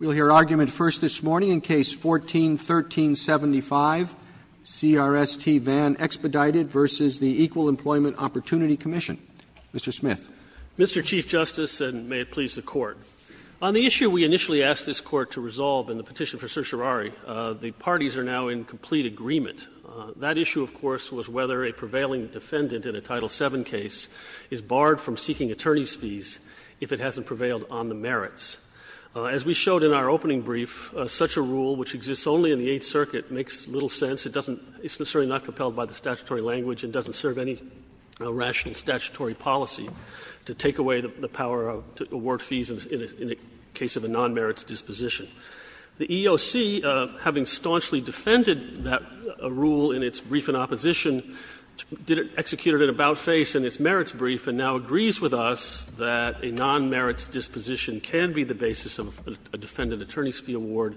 We'll hear argument first this morning in Case No. 14-1375, CRST Van Expedited v. Equal Employment Opportunity Commission. Mr. Smith. Mr. Chief Justice, and may it please the Court. On the issue we initially asked this Court to resolve in the petition for certiorari, the parties are now in complete agreement. That issue, of course, was whether a prevailing defendant in a Title VII case is barred from seeking attorney's fees if it hasn't prevailed on the merits. As we showed in our opening brief, such a rule, which exists only in the Eighth Circuit, makes little sense. It doesn't – it's necessarily not compelled by the statutory language and doesn't serve any rational statutory policy to take away the power of award fees in a case of a non-merits disposition. The EEOC, having staunchly defended that rule in its brief in opposition, executed an about-face in its merits brief and now agrees with us that a non-merits disposition can be the basis of a defendant attorney's fee award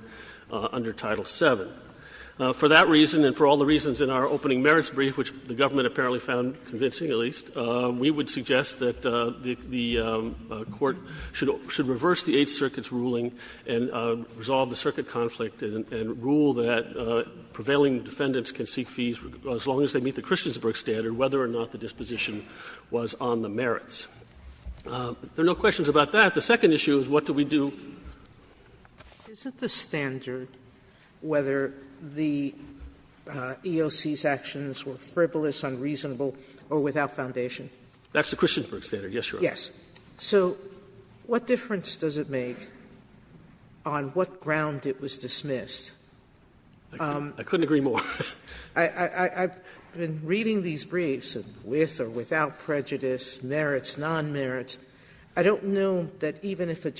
under Title VII. For that reason, and for all the reasons in our opening merits brief, which the government apparently found convincing at least, we would suggest that the Court should reverse the Eighth Circuit's ruling and resolve the circuit conflict and rule that prevailing defendants can seek fees as long as they meet the Christiansburg standard, whether or not the disposition was on the merits. If there are no questions about that, the second issue is what do we do? Sotomayor Isn't the standard whether the EEOC's actions were frivolous, unreasonable, or without foundation? That's the Christiansburg standard, yes, Your Honor. Yes. So what difference does it make on what ground it was dismissed? I couldn't agree more. Sotomayor I've been reading these briefs with or without prejudice, merits, non-merits. I don't know that even if a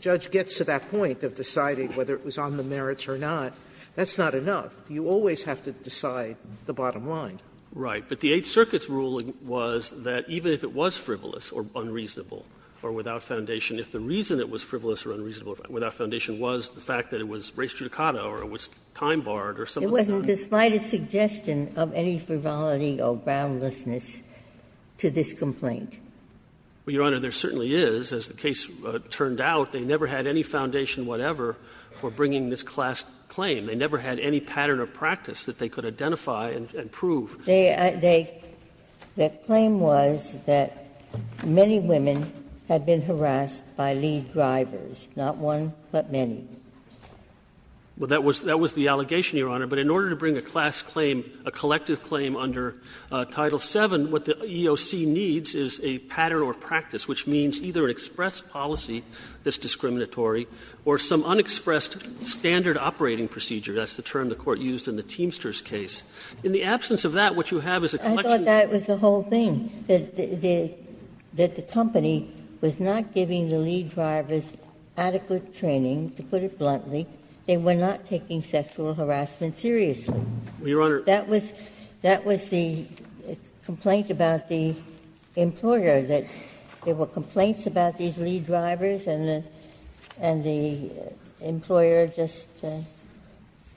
judge gets to that point of deciding whether it was on the merits or not, that's not enough. You always have to decide the bottom line. Right. But the Eighth Circuit's ruling was that even if it was frivolous or unreasonable or without foundation, if the reason it was frivolous or unreasonable or without It wasn't despite a suggestion of any frivolity or groundlessness to this complaint. Well, Your Honor, there certainly is. As the case turned out, they never had any foundation whatever for bringing this class claim. They never had any pattern of practice that they could identify and prove. They are they the claim was that many women had been harassed by lead drivers, not one but many. Well, that was the allegation, Your Honor. But in order to bring a class claim, a collective claim under Title VII, what the EOC needs is a pattern or practice, which means either an express policy that's discriminatory or some unexpressed standard operating procedure. That's the term the Court used in the Teamsters case. In the absence of that, what you have is a collection of evidence. I thought that was the whole thing, that the company was not giving the lead drivers adequate training, to put it bluntly, they were not taking sexual harassment seriously. Well, Your Honor, that was the complaint about the employer, that there were complaints about these lead drivers and the employer just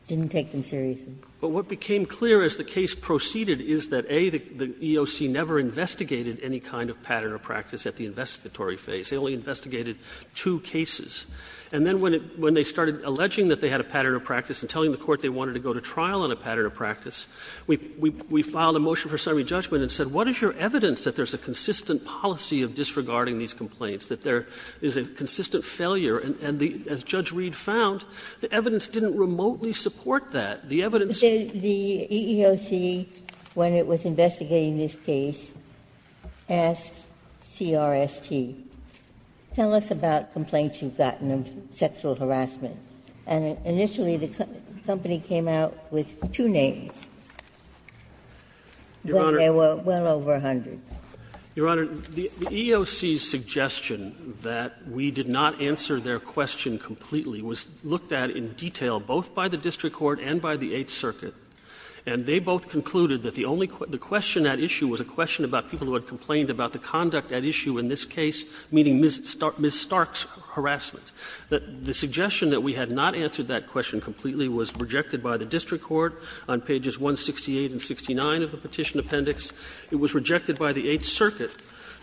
didn't take them seriously. But what became clear as the case proceeded is that, A, the EOC never investigated any kind of pattern or practice at the investigatory phase. They only investigated two cases. And then when they started alleging that they had a pattern or practice and telling the Court they wanted to go to trial on a pattern or practice, we filed a motion for summary judgment and said, what is your evidence that there's a consistent policy of disregarding these complaints, that there is a consistent failure? And as Judge Reed found, the evidence didn't remotely support that. The evidence was that the EEOC, when it was investigating this case, asked CRST. Tell us about complaints you've gotten of sexual harassment. And initially the company came out with two names. But there were well over 100. Your Honor, the EEOC's suggestion that we did not answer their question completely was looked at in detail, both by the district court and by the Eighth Circuit. And they both concluded that the only question at issue was a question about people who had complained about the conduct at issue in this case, meaning Ms. Stark's harassment. The suggestion that we had not answered that question completely was rejected by the district court on pages 168 and 169 of the Petition Appendix. It was rejected by the Eighth Circuit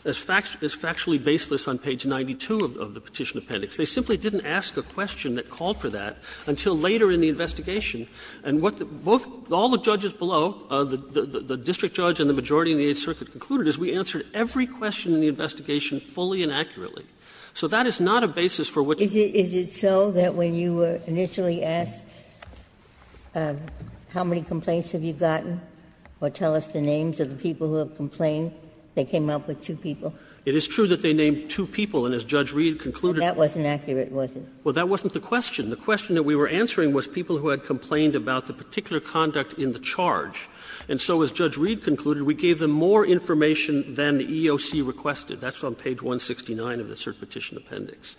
as factually baseless on page 92 of the Petition Appendix. They simply didn't ask a question that called for that until later in the investigation. And what all the judges below, the district judge and the majority in the Eighth Circuit, concluded is we answered every question in the investigation fully and accurately. So that is not a basis for which you can't answer the question. Ginsburg. Is it so that when you were initially asked how many complaints have you gotten or tell us the names of the people who have complained, they came up with two people? It is true that they named two people. And as Judge Reed concluded, that wasn't accurate, was it? Well, that wasn't the question. The question that we were answering was people who had complained about the particular conduct in the charge. And so as Judge Reed concluded, we gave them more information than the EOC requested. That's on page 169 of the Cert Petition Appendix.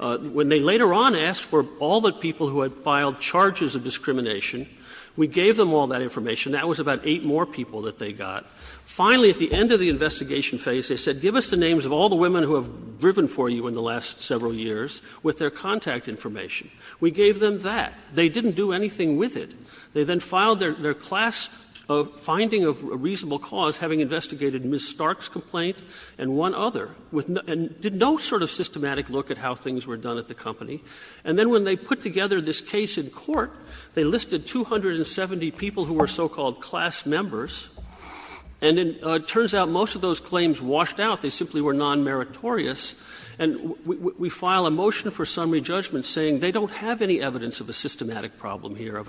When they later on asked for all the people who had filed charges of discrimination, we gave them all that information. That was about eight more people that they got. Finally, at the end of the investigation phase, they said give us the names of all the women who have driven for you in the last several years with their contact information. We gave them that. They didn't do anything with it. They then filed their class finding of a reasonable cause, having investigated Ms. Stark's complaint and one other, and did no sort of systematic look at how things were done at the company. And then when they put together this case in court, they listed 270 people who were so-called class members. And it turns out most of those claims washed out. They simply were nonmeritorious. And we file a motion for summary judgment saying they don't have any evidence of a systematic problem here, of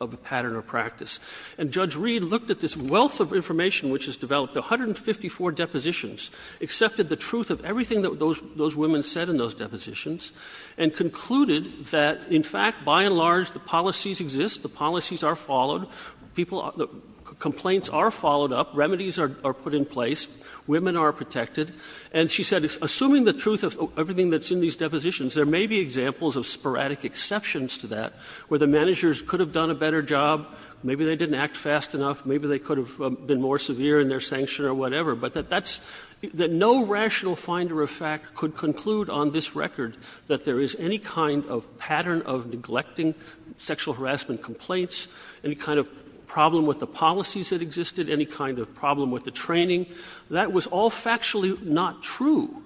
a pattern or practice. And Judge Reed looked at this wealth of information which is developed, 154 depositions, accepted the truth of everything that those women said in those depositions, and concluded that, in fact, by and large, the policies exist, the policies are followed, people are the ‑‑ complaints are followed up, remedies are put in place, women are protected. And she said, assuming the truth of everything that's in these depositions, there may be examples of sporadic exceptions to that, where the managers could have done a better job, maybe they didn't act fast enough, maybe they could have been more severe in their sanction or whatever, but that that's ‑‑ that no rational finder of fact could conclude on this record that there is any kind of pattern of neglecting sexual harassment complaints, any kind of problem with the policies that existed, any kind of problem with the training. That was all factually not true.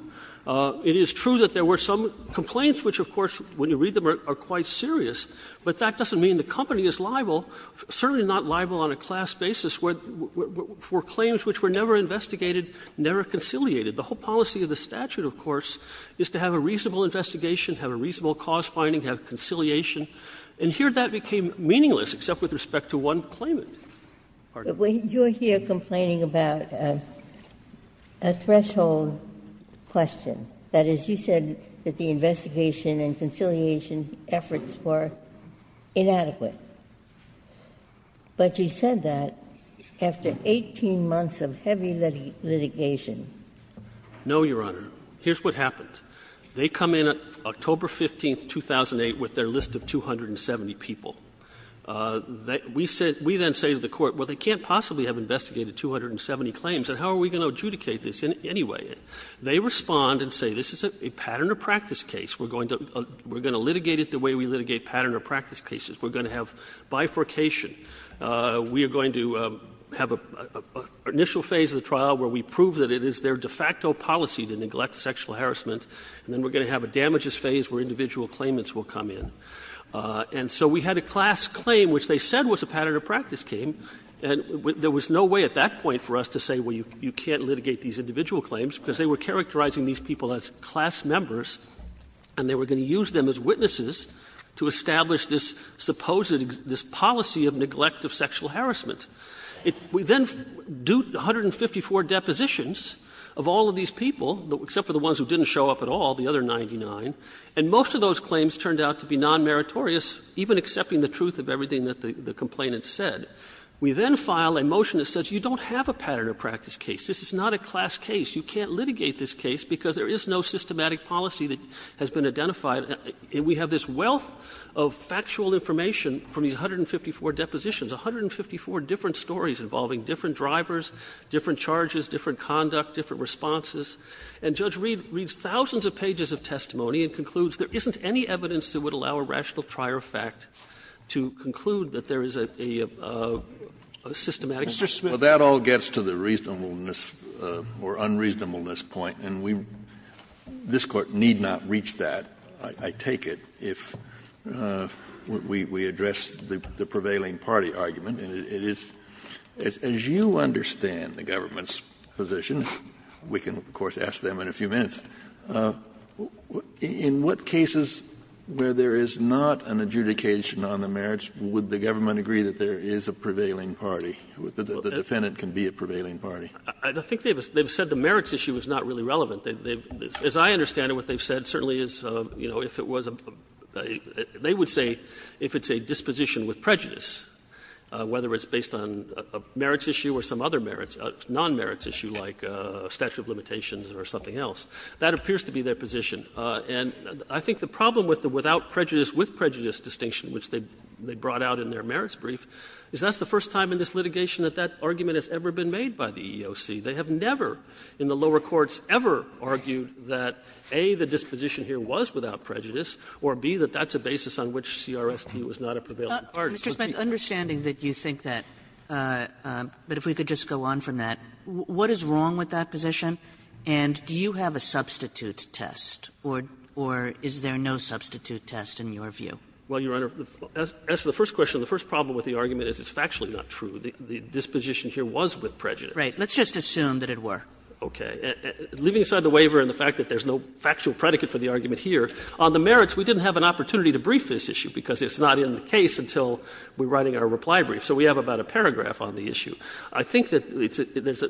It is true that there were some complaints which, of course, when you read them, are quite serious, but that doesn't mean the company is liable, certainly not liable on a class basis, for claims which were never investigated, never conciliated. The whole policy of the statute, of course, is to have a reasonable investigation, have a reasonable cause finding, have conciliation. And here that became meaningless, except with respect to one claimant. Pardon me. Ginsburg-Mills, when you're here complaining about a threshold question, that is, you said that the investigation and conciliation efforts were inadequate, but you said that after 18 months of heavy litigation. No, Your Honor. Here's what happened. They come in October 15, 2008, with their list of 270 people. We then say to the Court, well, they can't possibly have investigated 270 claims, and how are we going to adjudicate this anyway? They respond and say this is a pattern or practice case. We're going to litigate it the way we litigate pattern or practice cases. We're going to have bifurcation. We are going to have an initial phase of the trial where we prove that it is their de facto policy to neglect sexual harassment, and then we're going to have a damages phase where individual claimants will come in. And so we had a class claim which they said was a pattern or practice case, and there was no way at that point for us to say, well, you can't litigate these individual claims, because they were characterizing these people as class members and they were going to use them as witnesses to establish this supposed – this policy of neglect of sexual harassment. We then do 154 depositions of all of these people, except for the ones who didn't show up at all, the other 99, and most of those claims turned out to be non-meritorious, even accepting the truth of everything that the complainant said. We then file a motion that says you don't have a pattern or practice case. This is not a class case. You can't litigate this case because there is no systematic policy that has been identified, and we have this wealth of factual information from these 154 depositions, 154 different stories involving different drivers, different charges, different conduct, different responses. And Judge Reed reads thousands of pages of testimony and concludes there isn't any evidence that would allow a rational trier of fact to conclude that there is a systematic system. Kennedy, that all gets to the reasonableness or unreasonableness point, and we – this Court need not reach that, I take it, if we address the prevailing party argument, and it is – as you understand the government's position, we can quote them, of course, ask them in a few minutes, in what cases where there is not an adjudication on the merits would the government agree that there is a prevailing party, that the defendant can be a prevailing party? I think they've said the merits issue is not really relevant. As I understand it, what they've said certainly is, you know, if it was a – they would say if it's a disposition with prejudice, whether it's based on a merits issue or some other merits, non-merits issue like statute of limitations or something else, that appears to be their position. And I think the problem with the without prejudice, with prejudice distinction, which they brought out in their merits brief, is that's the first time in this litigation that that argument has ever been made by the EEOC. They have never in the lower courts ever argued that, A, the disposition here was without prejudice, or, B, that that's a basis on which CRST was not a prevailing party. Kagan. And so I just want to ask if you could please just go on, Mr. Smith, understanding that you think that, but if we could just go on from that, what is wrong with that position, and do you have a substitute test or is there no substitute test in your view? Smith. Smith. Smith. Well, Your Honor, the answer to the first question, the first problem with the argument is it's factually not true. The disposition here was with prejudice. Kagan. Smith. Right. Let's just assume that it were. Smith. Okay. And leaving aside the waiver and the fact that there's no factual predicate for the argument here, on the merits, we didn't have an opportunity to brief this issue because it's not in the case until we're writing our reply brief. So we have about a paragraph on the issue. I think that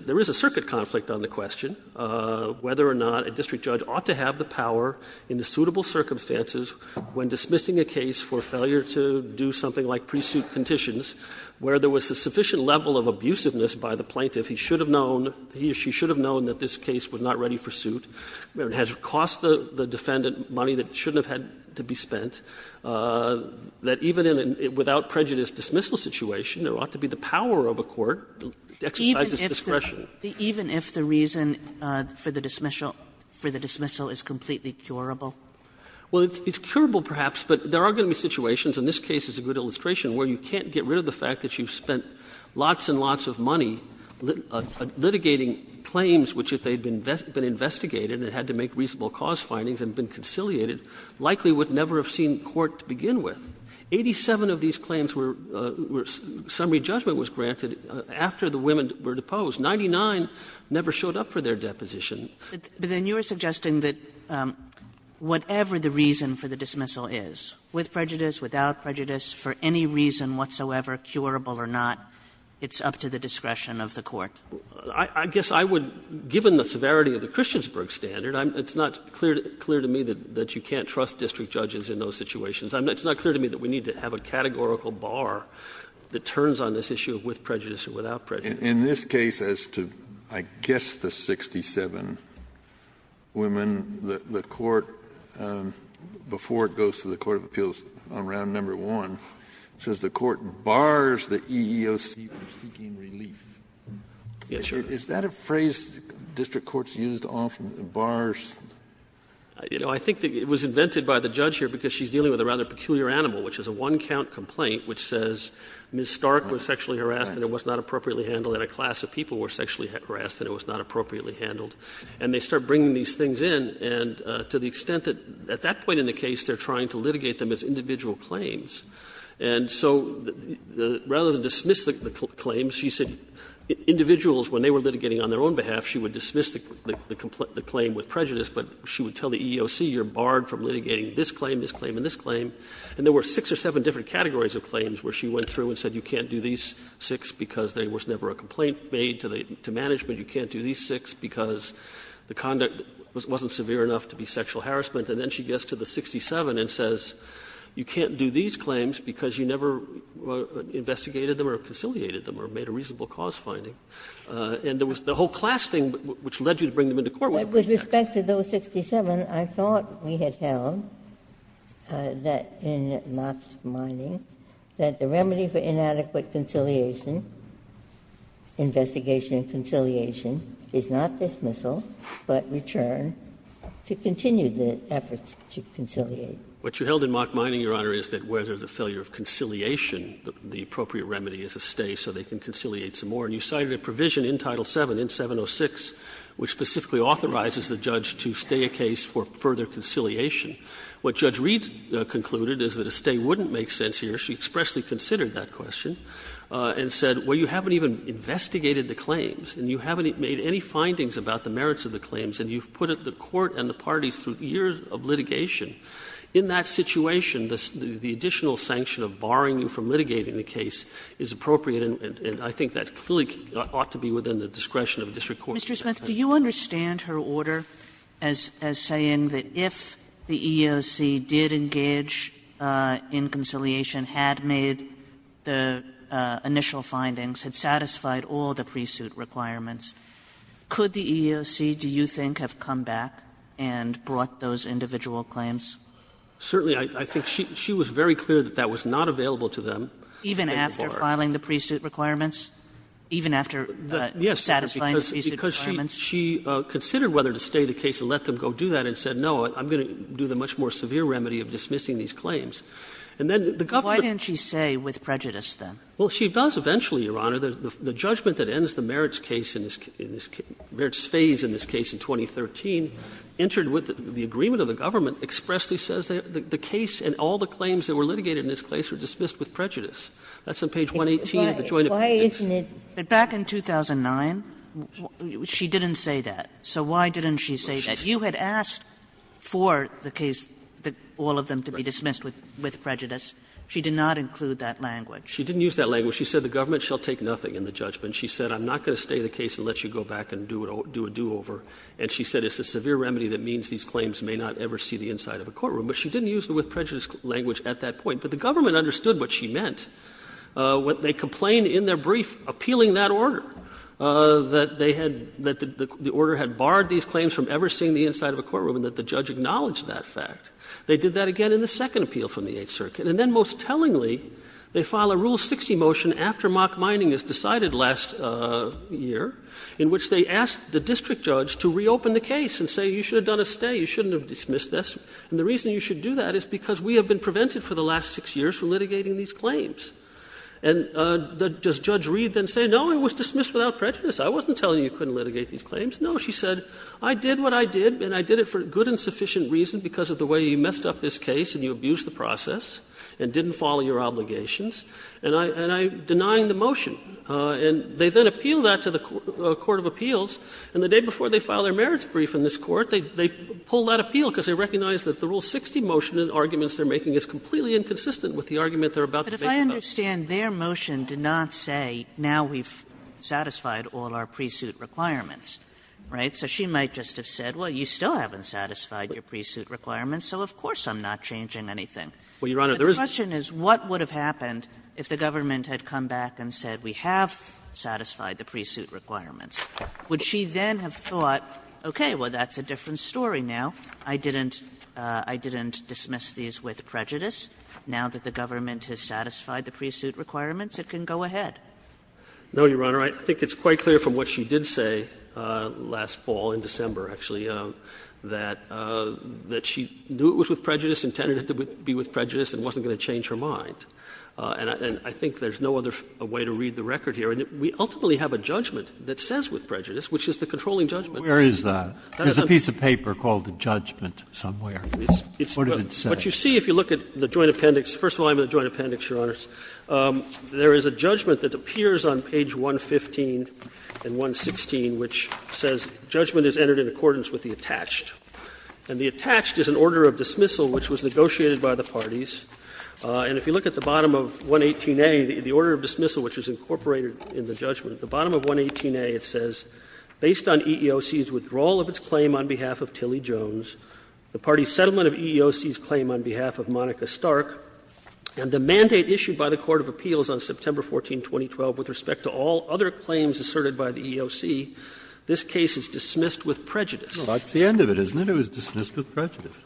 there is a circuit conflict on the question, whether or not a district judge ought to have the power in the suitable circumstances when dismissing a case for failure to do something like pre-suit conditions, where there was a sufficient level of abusiveness by the plaintiff. He should have known, he or she should have known that this case was not ready for suit. It has cost the defendant money that shouldn't have had to be spent. That even in a without prejudice dismissal situation, there ought to be the power of a court to exercise its discretion. Kagan. Even if the reason for the dismissal is completely curable? Well, it's curable perhaps, but there are going to be situations, and this case is a good illustration, where you can't get rid of the fact that you've spent lots and and had to make reasonable cause findings and been conciliated, likely would never have seen court to begin with. Eighty-seven of these claims were summary judgment was granted after the women were deposed. Ninety-nine never showed up for their deposition. But then you are suggesting that whatever the reason for the dismissal is, with prejudice, without prejudice, for any reason whatsoever, curable or not, it's up to the discretion of the court. I guess I would, given the severity of the Christiansburg standard, it's not clear to me that you can't trust district judges in those situations. It's not clear to me that we need to have a categorical bar that turns on this issue of with prejudice or without prejudice. In this case, as to, I guess, the 67 women, the court, before it goes to the court of appeals on round number one, says the court bars the EEOC from seeking relief. Is that a phrase district courts used often, bars? You know, I think it was invented by the judge here because she's dealing with a rather peculiar animal, which is a one-count complaint which says Ms. Stark was sexually harassed and it was not appropriately handled, and a class of people were sexually harassed and it was not appropriately handled, and they start bringing these things in, and to the extent that, at that point in the case, they are trying to litigate them as individual claims. And so rather than dismiss the claims, she said individuals, when they were litigating on their own behalf, she would dismiss the claim with prejudice, but she would tell the EEOC you're barred from litigating this claim, this claim, and this claim, and there were six or seven different categories of claims where she went through and said you can't do these six because there was never a complaint made to management, you can't do these six because the conduct wasn't severe enough to be sexual harassment, and then she gets to the 67 and says you can't do these claims because you never investigated them or conciliated them or made a reasonable cause finding. And there was the whole class thing which led you to bring them into court. Ginsburg-Miller With respect to those 67, I thought we had held that in Locke's finding that the remedy for inadequate conciliation, investigation and conciliation, is not dismissal, but return to continue the efforts to conciliate. Waxman What you held in Locke's finding, Your Honor, is that where there is a failure of conciliation, the appropriate remedy is a stay so they can conciliate some more. And you cited a provision in Title VII, in 706, which specifically authorizes the judge to stay a case for further conciliation. What Judge Reed concluded is that a stay wouldn't make sense here. She expressly considered that question and said, well, you haven't even investigated the claims and you haven't made any findings about the merits of the claims and you've put the court and the parties through years of litigation. In that situation, the additional sanction of barring you from litigating the case is appropriate. And I think that clearly ought to be within the discretion of a district court. Kagan Mr. Smith, do you understand her order as saying that if the EEOC did engage in conciliation, had made the initial findings, had satisfied all the pre-suit requirements, could the EEOC, do you think, have come back and brought those individual claims? Waxman Certainly, I think she was very clear that that was not available to them. Kagan Even after filing the pre-suit requirements, even after satisfying the pre-suit requirements? Waxman Yes, because she considered whether to stay the case and let them go do that and said, no, I'm going to do the much more severe remedy of dismissing these claims. And then the government Kagan Why didn't she say with prejudice, then? Waxman Well, she does eventually, Your Honor. The judgment that ends the merits case in this case, merits phase in this case in 2013, entered with the agreement of the government, expressly says that the case and all the claims that were litigated in this case were dismissed with prejudice. That's on page 118 of the joint appeal case. Kagan But why isn't it? But back in 2009, she didn't say that. So why didn't she say that? You had asked for the case, all of them, to be dismissed with prejudice. She did not include that language. Waxman She didn't use that language. She said the government shall take nothing in the judgment. She said I'm not going to stay the case and let you go back and do a do-over. And she said it's a severe remedy that means these claims may not ever see the inside of a courtroom. But she didn't use the with prejudice language at that point. But the government understood what she meant. They complained in their brief appealing that order, that they had the order had barred these claims from ever seeing the inside of a courtroom and that the judge acknowledged that fact. They did that again in the second appeal from the Eighth Circuit. And then, most tellingly, they file a Rule 60 motion after mock mining is decided last year, in which they ask the district judge to reopen the case and say you should have done a stay, you shouldn't have dismissed this, and the reason you should do that is because we have been prevented for the last six years from litigating these claims. And does Judge Reed then say, no, it was dismissed without prejudice, I wasn't telling you you couldn't litigate these claims? No. She said, I did what I did and I did it for good and sufficient reason because of the way you messed up this case and you abused the process and didn't follow your obligations, and I'm denying the motion. And they then appeal that to the court of appeals, and the day before they file their merits brief in this court, they pull that appeal because they recognize that the Rule 60 motion and arguments they're making is completely inconsistent with the argument they're about to make about it. And I understand their motion did not say, now we've satisfied all our pre-suit requirements, right? So she might just have said, well, you still haven't satisfied your pre-suit requirements, so of course I'm not changing anything. Well, Your Honor, there is a question is what would have happened if the government had come back and said we have satisfied the pre-suit requirements? Would she then have thought, okay, well, that's a different story now, I didn't dismiss these with prejudice, now that the government has satisfied the pre-suit requirements, it can go ahead? No, Your Honor. I think it's quite clear from what she did say last fall, in December, actually, that she knew it was with prejudice, intended it to be with prejudice, and wasn't going to change her mind. And I think there's no other way to read the record here. And we ultimately have a judgment that says with prejudice, which is the controlling judgment. Where is that? There's a piece of paper called the judgment somewhere. It's what you see if you look at the Joint Appendix, first volume of the Joint Appendix, Your Honors. There is a judgment that appears on page 115 and 116, which says judgment is entered in accordance with the attached. And the attached is an order of dismissal which was negotiated by the parties. And if you look at the bottom of 118A, the order of dismissal which is incorporated in the judgment, at the bottom of 118A it says, Well, that's the end of it, isn't it? It was dismissed with prejudice.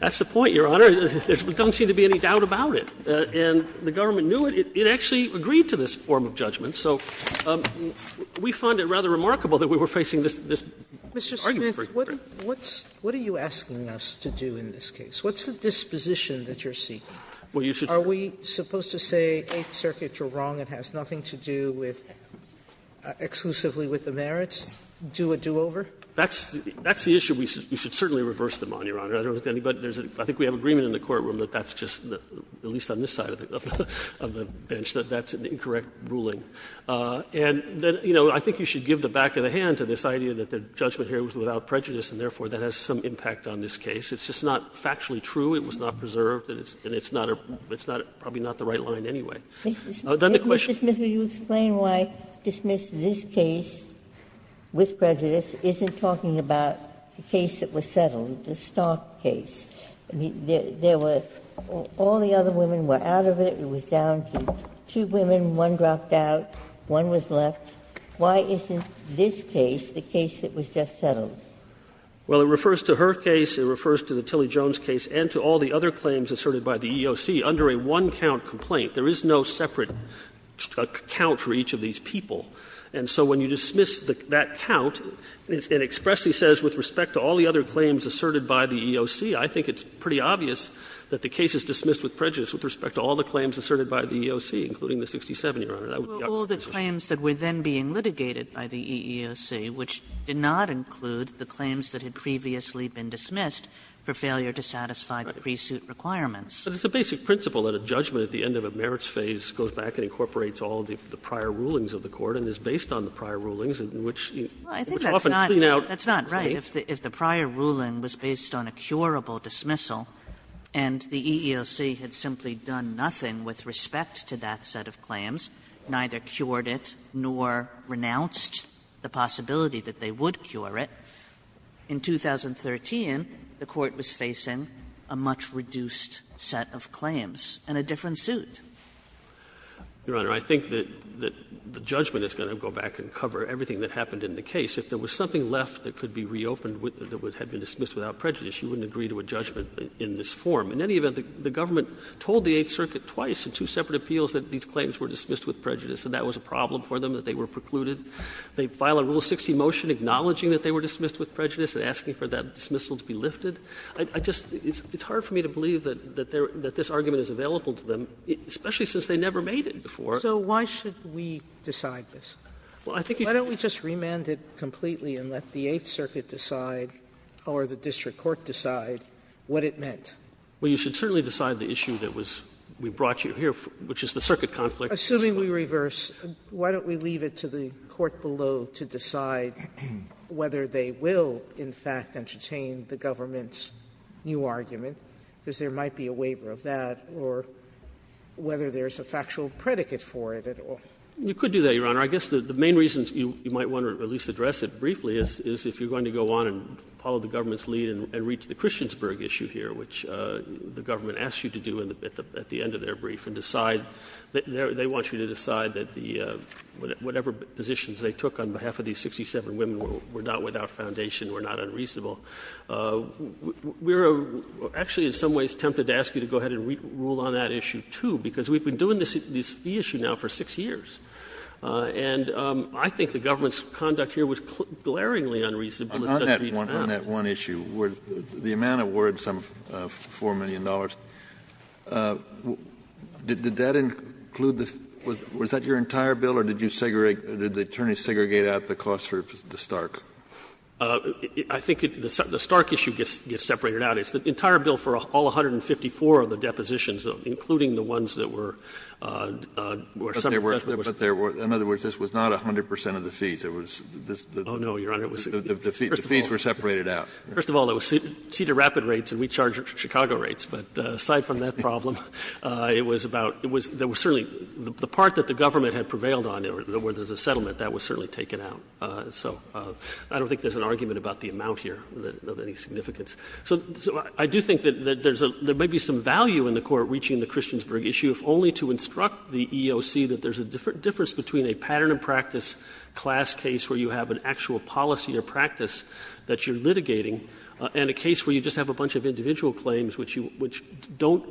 That's the point, Your Honor. There doesn't seem to be any doubt about it. And the government knew it. It actually agreed to this form of judgment. So we find it rather remarkable that we were facing this argument. Sotomayor, what are you asking us to do in this case? What's the disposition that you're seeking? Are we supposed to say Eighth Circuit, you're wrong, it has nothing to do with exclusively with the merits, do a do-over? That's the issue we should certainly reverse them on, Your Honor. I don't think anybody else. I think we have agreement in the courtroom that that's just, at least on this side of the bench, that that's an incorrect ruling. And, you know, I think you should give the back of the hand to this idea that the judgment here was without prejudice and, therefore, that has some impact on this case. It's just not factually true, it was not preserved, and it's not a – it's not a – probably not the right line anyway. Then the question is – Ginsburg-Goldenberg Mr. Smith, will you explain why dismiss this case with prejudice isn't talking about the case that was settled, the Stark case? I mean, there were – all the other women were out of it, it was down to two women, one dropped out, one was left. Why isn't this case the case that was just settled? Smith, I think it's pretty obvious that the case is dismissed with prejudice with respect to all the claims asserted by the EEOC, including the 66-year-old woman who was in the EEOC. And so when you dismiss that count, it expressly says, with respect to all the other claims asserted by the EEOC, I think it's pretty obvious that the case is dismissed with prejudice with respect to all the claims asserted by the EEOC, including the 67-year-old woman. I would be up for dismissal. Kagan Well, all the claims that were then being litigated by the EEOC, which did not include the claims that had previously been dismissed for failure to satisfy the pre-suit requirements. Smith But it's a basic principle that a judgment at the end of a merits phase goes back and incorporates all the prior rulings of the court and is based on the prior rulings, which often clean out. Kagan I think that's not – that's not right. If the prior ruling was based on a curable dismissal and the EEOC had simply done nothing with respect to that set of claims, neither cured it nor renounced the possibility that they would cure it, in 2013, the Court was facing a much reduced set of claims and a different suit. Smith Your Honor, I think that the judgment is going to go back and cover everything that happened in the case. If there was something left that could be reopened that had been dismissed without prejudice, you wouldn't agree to a judgment in this form. In any event, the government told the Eighth Circuit twice in two separate appeals that these claims were dismissed with prejudice and that was a problem for them, that they were precluded. They file a Rule 60 motion acknowledging that they were dismissed with prejudice and asking for that dismissal to be lifted. I just – it's hard for me to believe that this argument is available to them, especially since they never made it before. So why should we decide this? Smith Well, I think you should. You should remand it completely and let the Eighth Circuit decide, or the district court decide, what it meant. Sotomayor Well, you should certainly decide the issue that was – we brought you here, which is the circuit conflict. Sotomayor Assuming we reverse, why don't we leave it to the court below to decide whether they will, in fact, entertain the government's new argument, because there might be a waiver of that, or whether there's a factual predicate for it at all. Smith You could do that, Your Honor. I guess the main reasons you might want to at least address it briefly is if you're going to go on and follow the government's lead and reach the Christiansburg issue here, which the government asks you to do at the end of their brief and decide – they want you to decide that the – whatever positions they took on behalf of these 67 women were not without foundation, were not unreasonable. We're actually in some ways tempted to ask you to go ahead and rule on that issue, too, because we've been doing this fee issue now for 6 years. And I think the government's conduct here was glaringly unreasonable. Kennedy On that one issue, the amount of words, $4 million, did that include the – was that your entire bill, or did you segregate – did the attorneys segregate out the cost for the Stark? Smith I think the Stark issue gets separated out. It's the entire bill for all 154 of the depositions, including the ones that were separate. Kennedy But there were – in other words, this was not 100 percent of the fees. It was this – the fees were separated out. Smith First of all, it was Cedar Rapids rates, and we charge Chicago rates. But aside from that problem, it was about – it was – there was certainly – the part that the government had prevailed on, where there's a settlement, that was certainly taken out. So I don't think there's an argument about the amount here of any significance. So I do think that there's a – there may be some value in the Court reaching the Christiansburg issue, if only to instruct the EEOC that there's a difference between a pattern of practice class case where you have an actual policy or practice that you're litigating, and a case where you just have a bunch of individual claims which you – which don't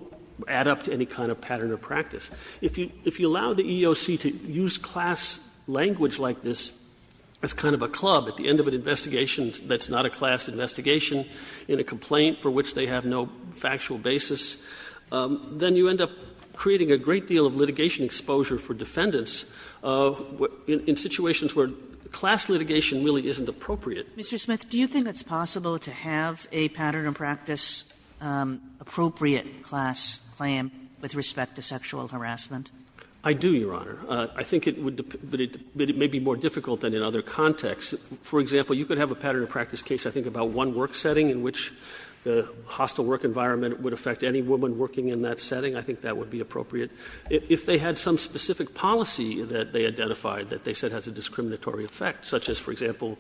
add up to any kind of pattern of practice. If you allow the EEOC to use class language like this as kind of a club at the end of an investigation that's not a class investigation in a complaint for which they have no factual basis, then you end up creating a great deal of litigation exposure for defendants in situations where class litigation really isn't appropriate. Kagan Mr. Smith, do you think it's possible to have a pattern of practice appropriate class claim with respect to sexual harassment? Smith I do, Your Honor. I think it would – but it may be more difficult than in other contexts. For example, you could have a pattern of practice case, I think, about one work setting in which the hostile work environment would affect any woman working in that setting. I think that would be appropriate. If they had some specific policy that they identified that they said has a discriminatory effect, such as, for example,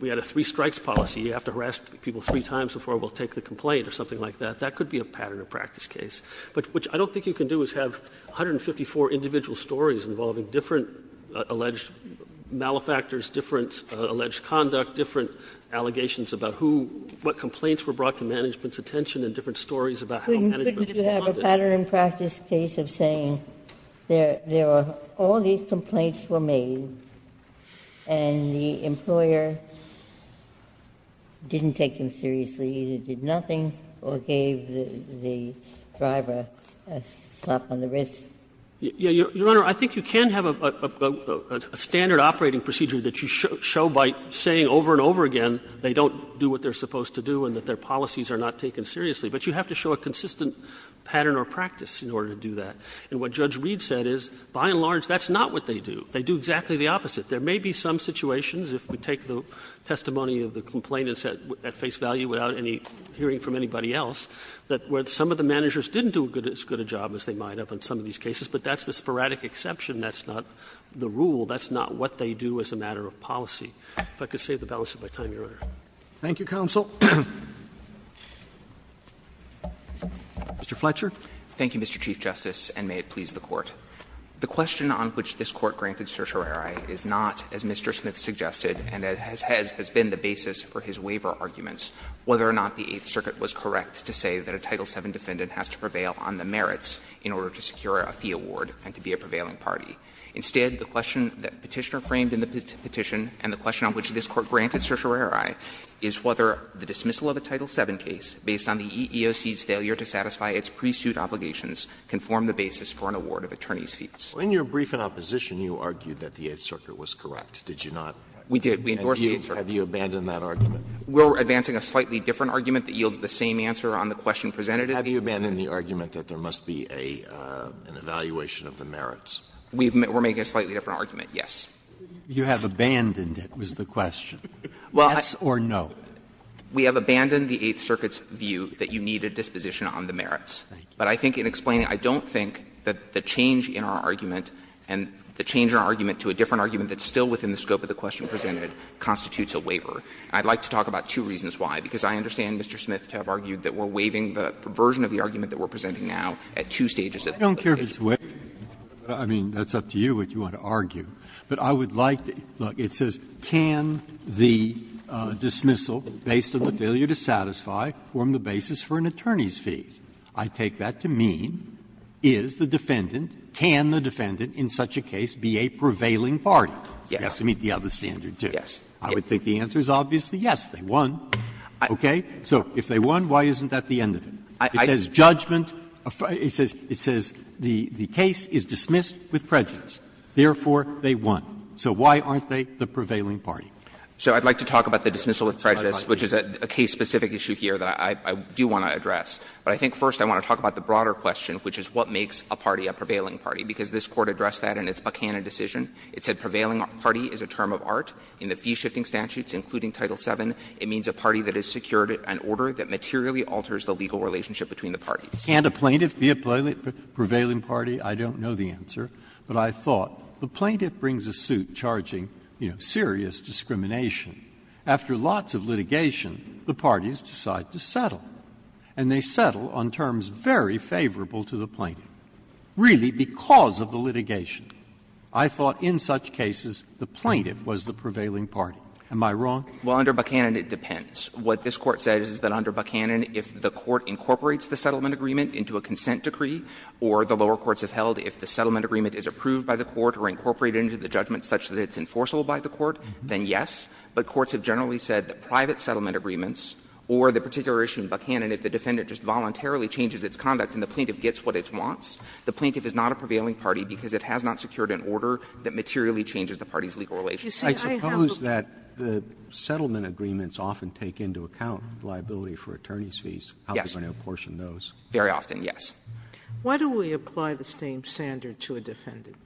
we had a three strikes policy, you have to harass people three times before we'll take the complaint or something like that, that could be a pattern of practice case, but which I don't think you can do is have 154 individual stories involving different alleged malefactors, different alleged conduct, different allegations about who – what complaints were brought to management's attention and different stories about how management responded. Ginsburg Couldn't you have a pattern of practice case of saying there are – all these complaints were made and the employer didn't take them seriously, either did nothing or gave the driver a slap on the wrist? Smith Your Honor, I think you can have a standard operating procedure that you show by saying over and over again they don't do what they're supposed to do and that their policies are not taken seriously. But you have to show a consistent pattern or practice in order to do that. And what Judge Reed said is, by and large, that's not what they do. They do exactly the opposite. There may be some situations, if we take the testimony of the complainants at face value without any hearing from anybody else, that where some of the managers didn't do as good a job as they might have in some of these cases, but that's the sporadic exception, that's not the rule, that's not what they do as a matter of policy. If I could save the balance of my time, Your Honor. Roberts Thank you, counsel. Mr. Fletcher. Fletcher Thank you, Mr. Chief Justice, and may it please the Court. The question on which this Court granted certiorari is not, as Mr. Smith suggested and has been the basis for his waiver arguments, whether or not the Eighth Circuit was correct to say that a Title VII defendant has to prevail on the merits in order to secure a fee award and to be a prevailing party. Instead, the question that Petitioner framed in the petition and the question on which this Court granted certiorari is whether the dismissal of a Title VII case based on the EEOC's failure to satisfy its pre-suit obligations can form the basis for an award of attorneys' fees. Alito In your brief in opposition, you argued that the Eighth Circuit was correct. Did you not? Fletcher We did. We endorsed the Eighth Circuit. Alito Have you abandoned that argument? Fletcher We're advancing a slightly different argument that yields the same answer on the question presented at the hearing. Alito Have you abandoned the argument that there must be an evaluation of the merits? Fletcher We're making a slightly different argument, yes. Sotomayor You have abandoned it, was the question. Fletcher Well, I. Sotomayor Yes or no? Fletcher We have abandoned the Eighth Circuit's view that you need a disposition on the merits. But I think in explaining, I don't think that the change in our argument and the change in our argument to a different argument that's still within the scope of the question presented constitutes a waiver. And I'd like to talk about two reasons why, because I understand Mr. Smith to have argued that we're waiving the version of the argument that we're presenting now at two stages of the petition. Breyer I mean, that's up to you what you want to argue. But I would like to see, look, it says, can the dismissal, based on the failure to satisfy, form the basis for an attorney's fee? I take that to mean, is the defendant, can the defendant in such a case be a prevailing party? You have to meet the other standard, too. I would think the answer is obviously yes, they won. Okay? So if they won, why isn't that the end of it? It says judgment, it says the case is dismissed with prejudice, therefore they won. So why aren't they the prevailing party? So I'd like to talk about the dismissal of prejudice, which is a case-specific issue here that I do want to address. But I think first I want to talk about the broader question, which is what makes a party a prevailing party, because this Court addressed that in its Buckhannon decision. It said prevailing party is a term of art. In the fee-shifting statutes, including Title VII, it means a party that has secured an order that materially alters the legal relationship between the parties. Breyer, can't a plaintiff be a prevailing party? I don't know the answer, but I thought the plaintiff brings a suit charging, you know, serious discrimination. After lots of litigation, the parties decide to settle, and they settle on terms very favorable to the plaintiff, really because of the litigation. I thought in such cases the plaintiff was the prevailing party. Am I wrong? Well, under Buckhannon, it depends. What this Court says is that under Buckhannon, if the Court incorporates the settlement agreement into a consent decree, or the lower courts have held if the settlement agreement is approved by the Court or incorporated into the judgment such that it's enforceable by the Court, then yes. But courts have generally said that private settlement agreements or the particular issue in Buckhannon, if the defendant just voluntarily changes its conduct and the plaintiff gets what it wants, the plaintiff is not a prevailing party because it has not secured an order that materially changes the party's legal relationship. Sotomayor, I suppose that the settlement agreements often take into account liability for attorney's fees. How can you apportion those? Very often, yes. Sotomayor, why don't we apply the same standard to a defendant?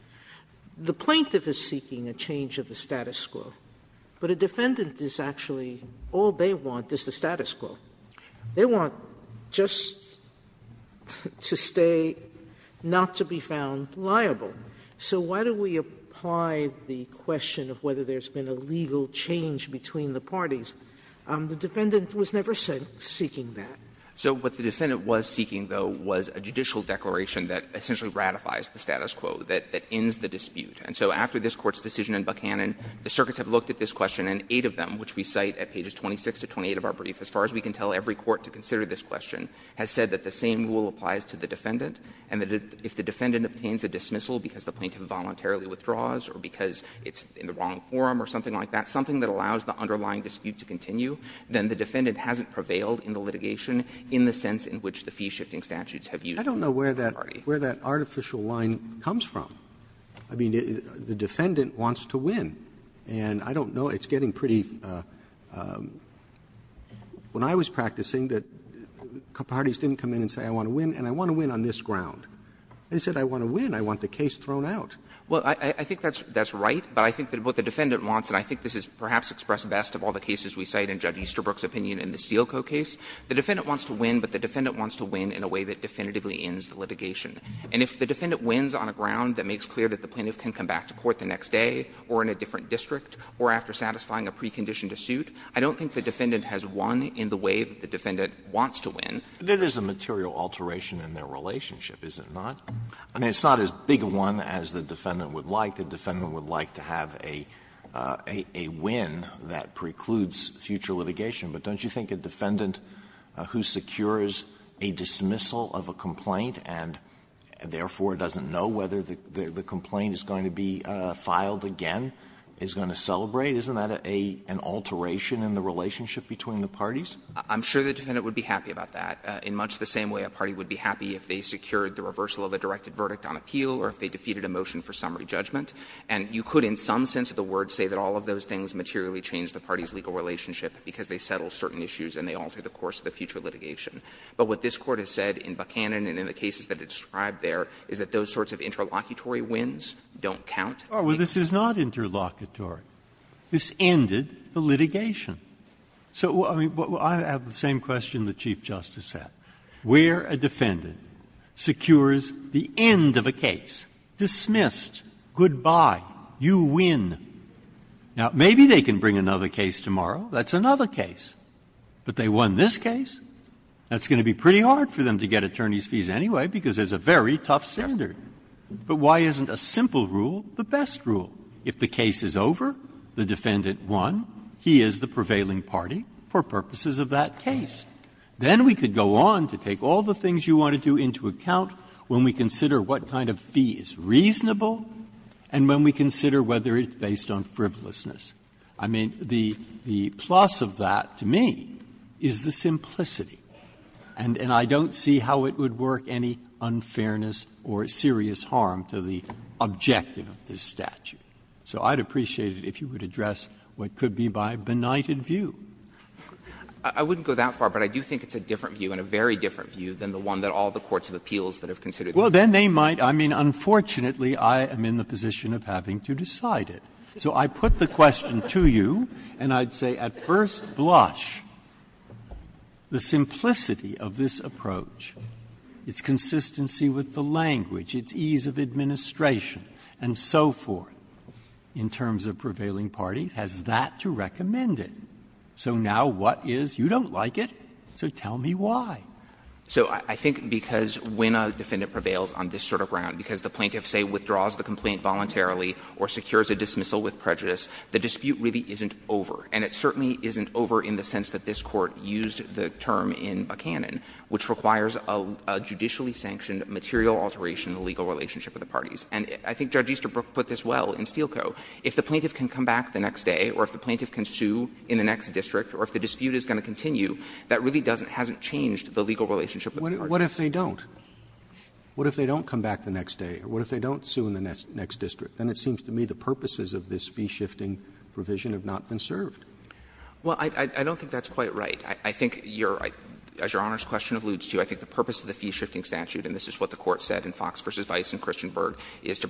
The plaintiff is seeking a change of the status quo, but a defendant is actually all they want is the status quo. They want just to stay not to be found liable. So why don't we apply the question of whether there's been a legal change between the parties? The defendant was never seeking that. So what the defendant was seeking, though, was a judicial declaration that essentially ratifies the status quo, that ends the dispute. And so after this Court's decision in Buckhannon, the circuits have looked at this question, and eight of them, which we cite at pages 26 to 28 of our brief, as far as we can tell, every court to consider this question, has said that the same rule that if the defendant has not prevailed in the litigation in the sense in which the fee-shifting statutes have used in the party. Roberts, I don't know where that artificial line comes from. I mean, the defendant wants to win, and I don't know, it's getting pretty, when I was practicing that parties didn't come in and say I want to win, and I want to win on this ground. They said I want to win. I want the case thrown out. Well, I think that's right, but I think that what the defendant wants, and I think this is perhaps expressed best of all the cases we cite in Judge Easterbrook's opinion in the Steele Co. case, the defendant wants to win, but the defendant wants to win in a way that definitively ends the litigation. And if the defendant wins on a ground that makes clear that the plaintiff can come back to court the next day or in a different district or after satisfying a precondition to suit, I don't think the defendant has won in the way that the defendant wants to win. Alito, that is a material alteration in their relationship, is it not? I mean, it's not as big a one as the defendant would like. The defendant would like to have a win that precludes future litigation. But don't you think a defendant who secures a dismissal of a complaint and therefore doesn't know whether the complaint is going to be filed again is going to celebrate, isn't that an alteration in the relationship between the parties? I'm sure the defendant would be happy about that, in much the same way a party would be happy if they secured the reversal of a directed verdict on appeal or if they defeated a motion for summary judgment. And you could, in some sense of the word, say that all of those things materially change the party's legal relationship because they settle certain issues and they alter the course of the future litigation. But what this Court has said in Buchanan and in the cases that it described there is that those sorts of interlocutory wins don't count. Breyer, this is not interlocutory. This ended the litigation. So I mean, I have the same question the Chief Justice had. Where a defendant secures the end of a case, dismissed, goodbye, you win. Now, maybe they can bring another case tomorrow. That's another case. But they won this case. That's going to be pretty hard for them to get attorney's fees anyway because there's a very tough standard. But why isn't a simple rule the best rule? If the case is over, the defendant won, he is the prevailing party for purposes of that case. Then we could go on to take all the things you want to do into account when we consider what kind of fee is reasonable and when we consider whether it's based on frivolousness. I mean, the plus of that to me is the simplicity. And I don't see how it would work any unfairness or serious harm to the objective of this statute. So I'd appreciate it if you would address what could be my benighted view. I wouldn't go that far, but I do think it's a different view and a very different view than the one that all the courts of appeals that have considered. Breyer. Well, then they might. I mean, unfortunately, I am in the position of having to decide it. So I put the question to you and I'd say, at first blush, the simplicity of this approach, its consistency with the language, its ease of administration and so forth, in terms of prevailing parties, has that to recommend it. So now what is, you don't like it, so tell me why. So I think because when a defendant prevails on this sort of ground, because the plaintiff, say, withdraws the complaint voluntarily or secures a dismissal with prejudice, the dispute really isn't over. And it certainly isn't over in the sense that this Court used the term in Buchanan, which requires a judicially sanctioned material alteration of the legal relationship of the parties. And I think Judge Easterbrook put this well in Steele Co. If the plaintiff can come back the next day or if the plaintiff can sue in the next district or if the dispute is going to continue, that really doesn't, hasn't changed the legal relationship of the parties. Roberts What if they don't? What if they don't come back the next day? What if they don't sue in the next district? Then it seems to me the purposes of this fee-shifting provision have not been served. Well, I don't think that's quite right. I think your Honor's question alludes to, I think the purpose of the fee-shifting statute, and this is what the Court said in Fox v. Vice and Christian Berg, is to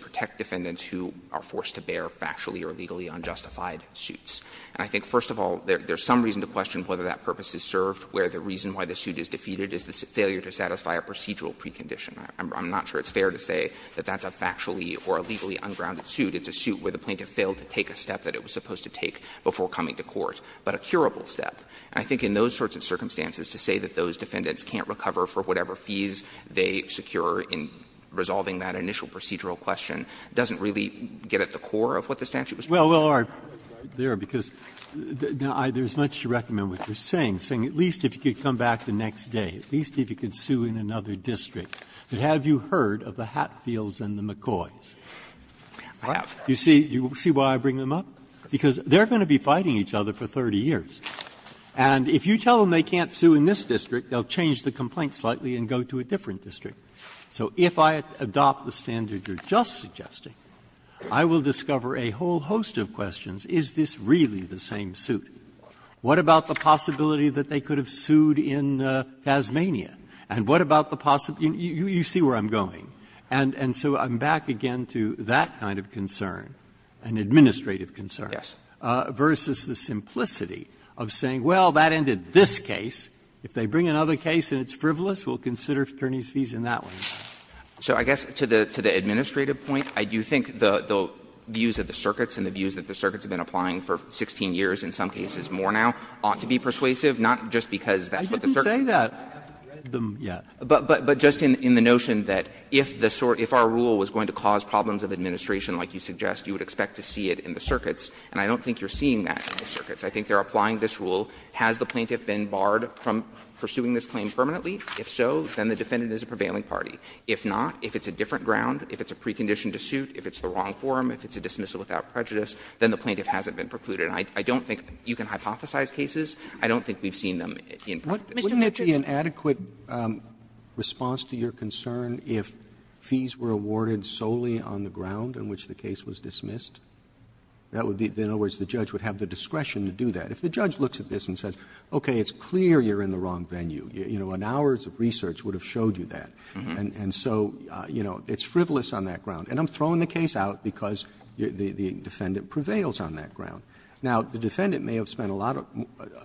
deal with factually or legally unjustified suits. And I think, first of all, there's some reason to question whether that purpose is served, where the reason why the suit is defeated is the failure to satisfy a procedural precondition. I'm not sure it's fair to say that that's a factually or a legally ungrounded suit. It's a suit where the plaintiff failed to take a step that it was supposed to take before coming to court, but a curable step. And I think in those sorts of circumstances, to say that those defendants can't recover for whatever fees they secure in resolving that initial procedural question doesn't really get at the core of what the statute was trying to do. Breyer. Breyer, because there's much to recommend what you're saying, saying at least if you could come back the next day, at least if you could sue in another district. But have you heard of the Hatfields and the McCoys? You see why I bring them up? Because they're going to be fighting each other for 30 years. And if you tell them they can't sue in this district, they'll change the complaint slightly and go to a different district. So if I adopt the standard you're just suggesting, I will discover a whole host of questions. Is this really the same suit? What about the possibility that they could have sued in Tasmania? And what about the possibility you see where I'm going? And so I'm back again to that kind of concern, an administrative concern. Versus the simplicity of saying, well, that ended this case. If they bring another case and it's frivolous, we'll consider attorneys' fees in that one. So I guess to the administrative point, I do think the views of the circuits and the views that the circuits have been applying for 16 years, in some cases more now, ought to be persuasive, not just because that's what the circuits are doing. But just in the notion that if our rule was going to cause problems of administration like you suggest, you would expect to see it in the circuits, and I don't think you're seeing that in the circuits. I think they're applying this rule. Has the plaintiff been barred from pursuing this claim permanently? If so, then the defendant is a prevailing party. If not, if it's a different ground, if it's a precondition to suit, if it's the wrong form, if it's a dismissal without prejudice, then the plaintiff hasn't been precluded. And I don't think you can hypothesize cases. I don't think we've seen them in practice. Robertson, wouldn't it be an adequate response to your concern if fees were awarded solely on the ground in which the case was dismissed? That would be the end of which the judge would have the discretion to do that. If the judge looks at this and says, okay, it's clear you're in the wrong venue. You know, an hour's of research would have showed you that. And so, you know, it's frivolous on that ground. And I'm throwing the case out because the defendant prevails on that ground. Now, the defendant may have spent a lot of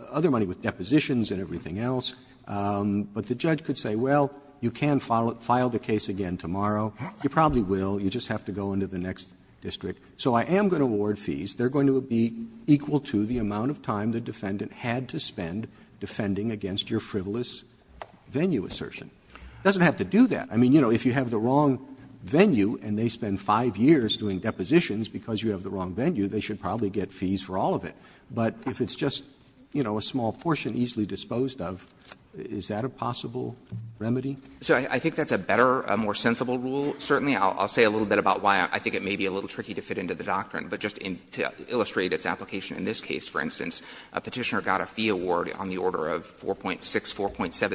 other money with depositions and everything else, but the judge could say, well, you can file the case again tomorrow. You probably will. You just have to go into the next district. So I am going to award fees. They're going to be equal to the amount of time the defendant had to spend defending against your frivolous venue assertion. It doesn't have to do that. I mean, you know, if you have the wrong venue and they spend 5 years doing depositions because you have the wrong venue, they should probably get fees for all of it. But if it's just, you know, a small portion easily disposed of, is that a possible remedy? So I think that's a better, a more sensible rule, certainly. I'll say a little bit about why I think it may be a little tricky to fit into the doctrine. But just to illustrate its application in this case, for instance, a Petitioner got a fee award on the order of $4.6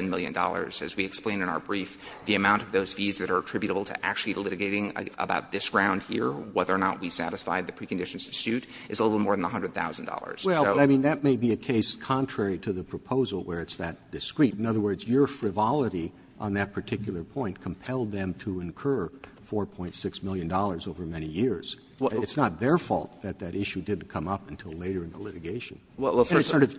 million, $4.7 million. As we explained in our brief, the amount of those fees that are attributable to actually litigating about this ground here, whether or not we satisfied the preconditions to suit, is a little more than $100,000. So. Roberts, I mean, that may be a case contrary to the proposal where it's that discreet. In other words, your frivolity on that particular point compelled them to incur $4.6 million over many years. It's not their fault that that issue didn't come up until later in the litigation. And it's sort of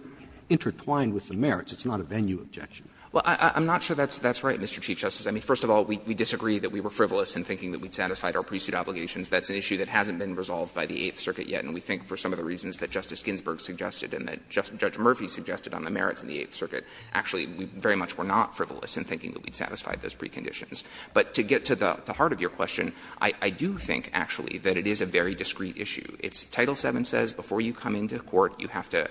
intertwined with the merits. It's not a venue objection. Well, I'm not sure that's right, Mr. Chief Justice. I mean, first of all, we disagree that we were frivolous in thinking that we'd satisfied our pre-suit obligations. That's an issue that hasn't been resolved by the Eighth Circuit yet. And we think for some of the reasons that Justice Ginsburg suggested and that Judge Murphy suggested on the merits in the Eighth Circuit, actually, we very much were not frivolous in thinking that we'd satisfied those preconditions. But to get to the heart of your question, I do think, actually, that it is a very discreet issue. It's Title VII says before you come into court, you have to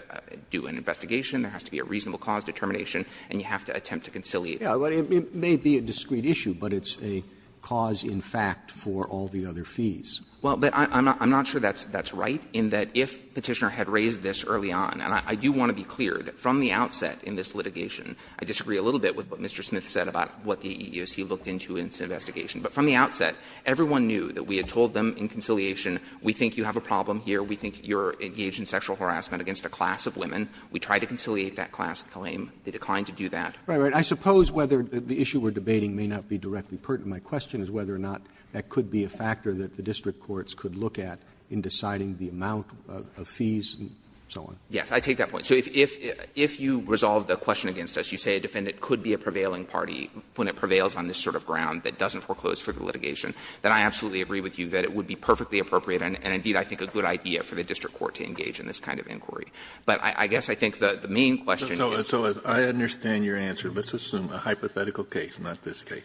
do an investigation, there has to be a reasonable cause determination, and you have to attempt to conciliate. Roberts. It may be a discreet issue, but it's a cause, in fact, for all the other fees. Well, but I'm not sure that's right, in that if Petitioner had raised this early on, and I do want to be clear that from the outset in this litigation, I disagree a little bit with what Mr. Smith said about what the EEOC looked into in its investigation. But from the outset, everyone knew that we had told them in conciliation, we think you have a problem here, we think you're engaged in sexual harassment against a class of women. We tried to conciliate that class claim. They declined to do that. Roberts. I suppose whether the issue we're debating may not be directly pertinent. My question is whether or not that could be a factor that the district courts could look at in deciding the amount of fees and so on. Yes. I take that point. So if you resolve the question against us, you say a defendant could be a prevailing party when it prevails on this sort of ground that doesn't foreclose for the litigation, then I absolutely agree with you that it would be perfectly appropriate and, indeed, I think a good idea for the district court to engage in this kind of inquiry. But I guess I think the main question is the same. Kennedy. So I understand your answer. Let's assume a hypothetical case, not this case.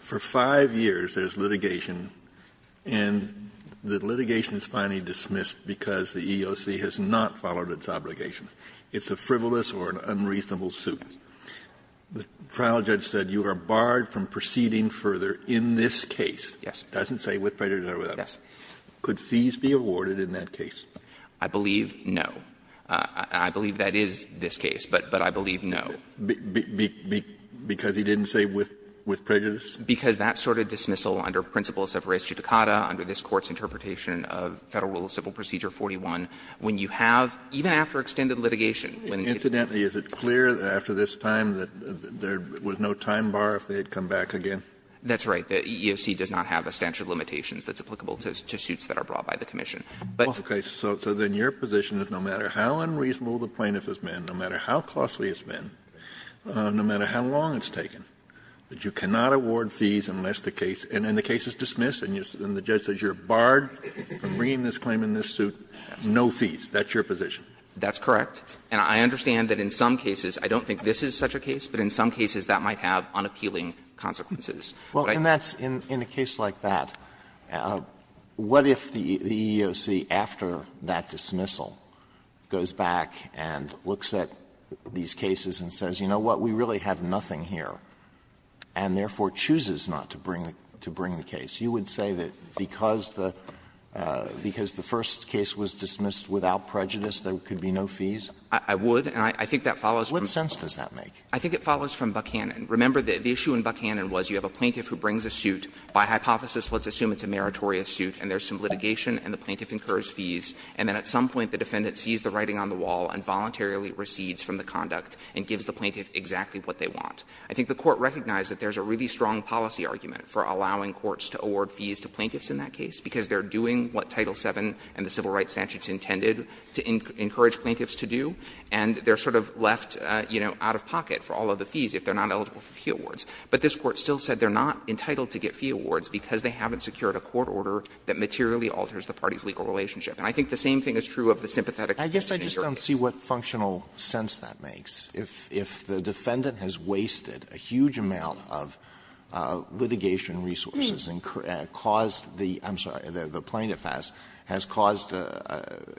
For 5 years there's litigation, and the litigation is finally dismissed because the EEOC has not followed its obligations. It's a frivolous or an unreasonable suit. The trial judge said you are barred from proceeding further in this case. Yes. Doesn't say with prejudice or without prejudice. Yes. Could fees be awarded in that case? I believe no. I believe that is this case, but I believe no. Because he didn't say with prejudice? Because that sort of dismissal under principles of res judicata, under this Court's interpretation of Federal Rule of Civil Procedure 41, when you have, even after extended litigation, when it's done. Incidentally, is it clear after this time that there was no time bar if they had come back again? That's right. The EEOC does not have a stanchion of limitations that's applicable to suits that are brought by the commission. But. Okay. So then your position is no matter how unreasonable the plaintiff has been, no matter how costly it's been, no matter how long it's taken, that you cannot award fees unless the case, and then the case is dismissed, and the judge says you are barred from bringing this claim in this suit, no fees. That's your position? That's correct. And I understand that in some cases, I don't think this is such a case, but in some cases that might have unappealing consequences. Alito, in a case like that, what if the EEOC, after that dismissal, goes back and looks at these cases and says, you know what, we really have nothing here, and therefore chooses not to bring the case? You would say that because the first case was dismissed without prejudice, there could be no fees? I would, and I think that follows from. What sense does that make? I think it follows from Buchanan. Remember, the issue in Buchanan was you have a plaintiff who brings a suit, by hypothesis let's assume it's a meritorious suit, and there's some litigation and the plaintiff incurs fees, and then at some point the defendant sees the writing on the wall and voluntarily recedes from the conduct and gives the plaintiff exactly what they want. I think the Court recognized that there's a really strong policy argument for allowing courts to award fees to plaintiffs in that case, because they're doing what Title VII and the Civil Rights Statutes intended to encourage plaintiffs to do, and they're sort of left, you know, out of pocket for all of the fees if they're not eligible for fee awards. But this Court still said they're not entitled to get fee awards because they haven't secured a court order that materially alters the party's legal relationship. And I think the same thing is true of the sympathetic case in New York. Alitoson I guess I just don't see what functional sense that makes. If the defendant has wasted a huge amount of litigation resources and caused the — I'm sorry,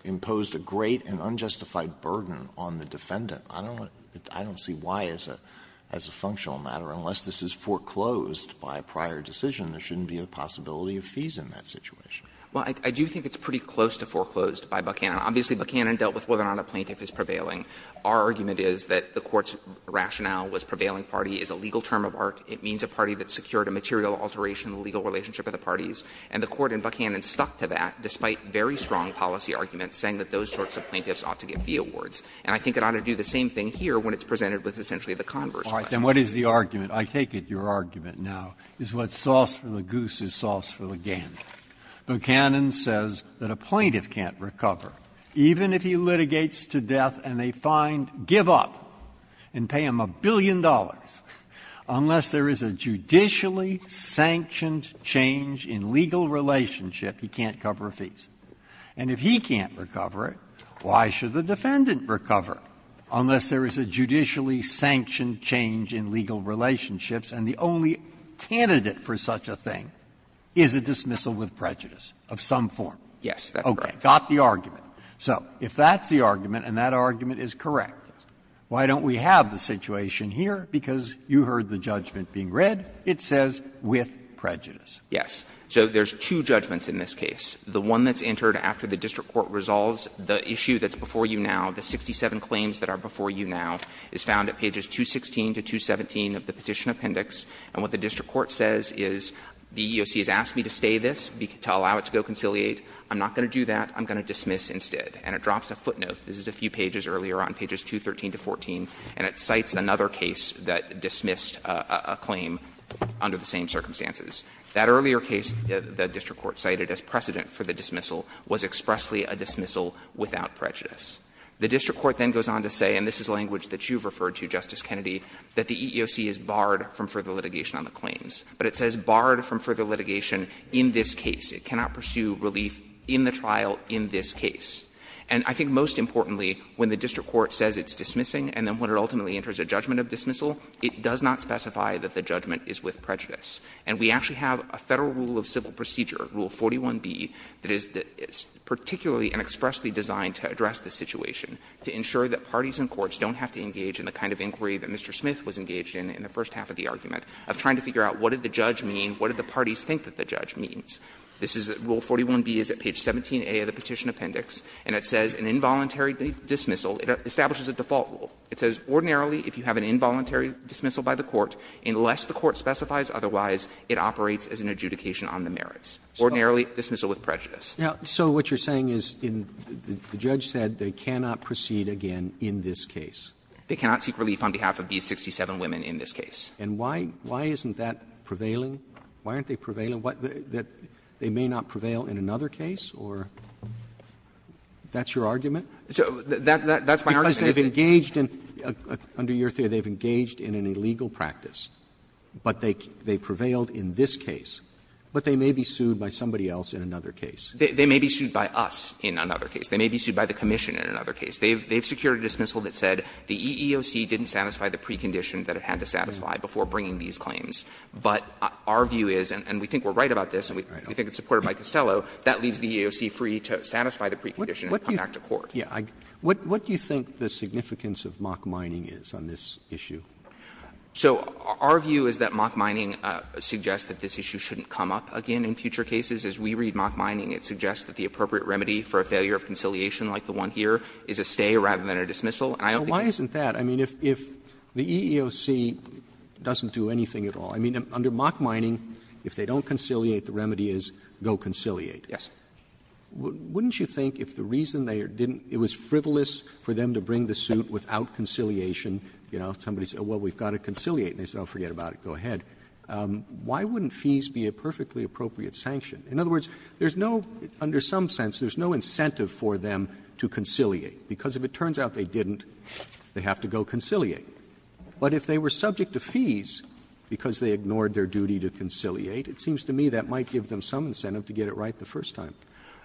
imposed a great and unjustified burden on the defendant, I don't see why as a functional matter, unless this is foreclosed by prior decision, there shouldn't be a possibility of fees in that situation. Well, I do think it's pretty close to foreclosed by Buchanan. Obviously, Buchanan dealt with whether or not a plaintiff is prevailing. Our argument is that the Court's rationale was prevailing party is a legal term of art. It means a party that secured a material alteration in the legal relationship of the parties. And the Court in Buchanan stuck to that, despite very strong policy arguments, saying that those sorts of plaintiffs ought to get fee awards. And I think it ought to do the same thing here when it's presented with essentially the converse question. Breyer's argument, I take it your argument now, is what's sauce for the goose is sauce for the gander. Buchanan says that a plaintiff can't recover, even if he litigates to death and they find, give up and pay him a billion dollars, unless there is a judicially sanctioned change in legal relationship, he can't cover fees. And if he can't recover it, why should the defendant recover it, unless there is a judicially sanctioned change in legal relationships and the only candidate for such a thing is a dismissal with prejudice of some form. Yes, that's correct. Okay. Got the argument. So if that's the argument and that argument is correct, why don't we have the situation here? Because you heard the judgment being read. It says with prejudice. Yes. So there's two judgments in this case. The one that's entered after the district court resolves the issue that's before you now, the 67 claims that are before you now, is found at pages 216 to 217 of the Petition Appendix. And what the district court says is the EEOC has asked me to stay this, to allow it to go conciliate. I'm not going to do that. I'm going to dismiss instead. And it drops a footnote. This is a few pages earlier on, pages 213 to 14, and it cites another case that dismissed a claim under the same circumstances. That earlier case the district court cited as precedent for the dismissal was expressly a dismissal without prejudice. The district court then goes on to say, and this is language that you've referred to, Justice Kennedy, that the EEOC is barred from further litigation on the claims. But it says barred from further litigation in this case. It cannot pursue relief in the trial in this case. And I think most importantly, when the district court says it's dismissing and then when it ultimately enters a judgment of dismissal, it does not specify that the judgment is with prejudice. And we actually have a Federal rule of civil procedure, Rule 41b, that is particularly and expressly designed to address this situation, to ensure that parties and courts don't have to engage in the kind of inquiry that Mr. Smith was engaged in in the first half of the argument, of trying to figure out what did the judge mean, what did the parties think that the judge means. Rule 41b is at page 17a of the Petition Appendix, and it says an involuntary dismissal, it establishes a default rule. It says, ordinarily, if you have an involuntary dismissal by the court, unless the court specifies otherwise, it operates as an adjudication on the merits. Ordinarily, dismissal with prejudice. Roberts. So what you're saying is, the judge said they cannot proceed again in this case. They cannot seek relief on behalf of these 67 women in this case. And why isn't that prevailing? Why aren't they prevailing? That they may not prevail in another case, or that's your argument? That's my argument. Because they've engaged in, under your theory, they've engaged in an illegal practice. But they prevailed in this case. But they may be sued by somebody else in another case. They may be sued by us in another case. They may be sued by the commission in another case. They've secured a dismissal that said the EEOC didn't satisfy the precondition that it had to satisfy before bringing these claims. But our view is, and we think we're right about this, and we think it's supported by Costello, that leaves the EEOC free to satisfy the precondition and come back to court. What do you think the significance of mock mining is on this issue? So our view is that mock mining suggests that this issue shouldn't come up again in future cases. As we read mock mining, it suggests that the appropriate remedy for a failure of conciliation like the one here is a stay rather than a dismissal. And I don't think it's a stay. Roberts. Roberts. I mean, if the EEOC doesn't do anything at all, I mean, under mock mining, if they don't conciliate, the remedy is go conciliate. Yes. Wouldn't you think if the reason they didn't, it was frivolous for them to bring the suit without conciliation? You know, somebody said, well, we've got to conciliate. And they said, oh, forget about it, go ahead. Why wouldn't fees be a perfectly appropriate sanction? In other words, there's no under some sense, there's no incentive for them to conciliate, because if it turns out they didn't, they have to go conciliate. But if they were subject to fees because they ignored their duty to conciliate, it seems to me that might give them some incentive to get it right the first time.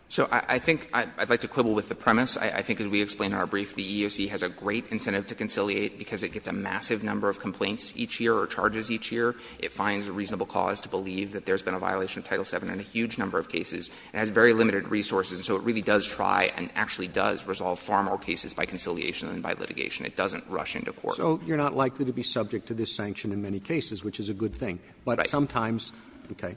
So I think I'd like to quibble with the premise. I think as we explained in our brief, the EEOC has a great incentive to conciliate because it gets a massive number of complaints each year or charges each year. It finds a reasonable cause to believe that there's been a violation of Title VII in a huge number of cases. It has very limited resources, and so it really does try and actually does resolve far more cases by conciliation than by litigation. It doesn't rush into court. Roberts. Roberts. So you're not likely to be subject to this sanction in many cases, which is a good thing. Right. But sometimes, okay.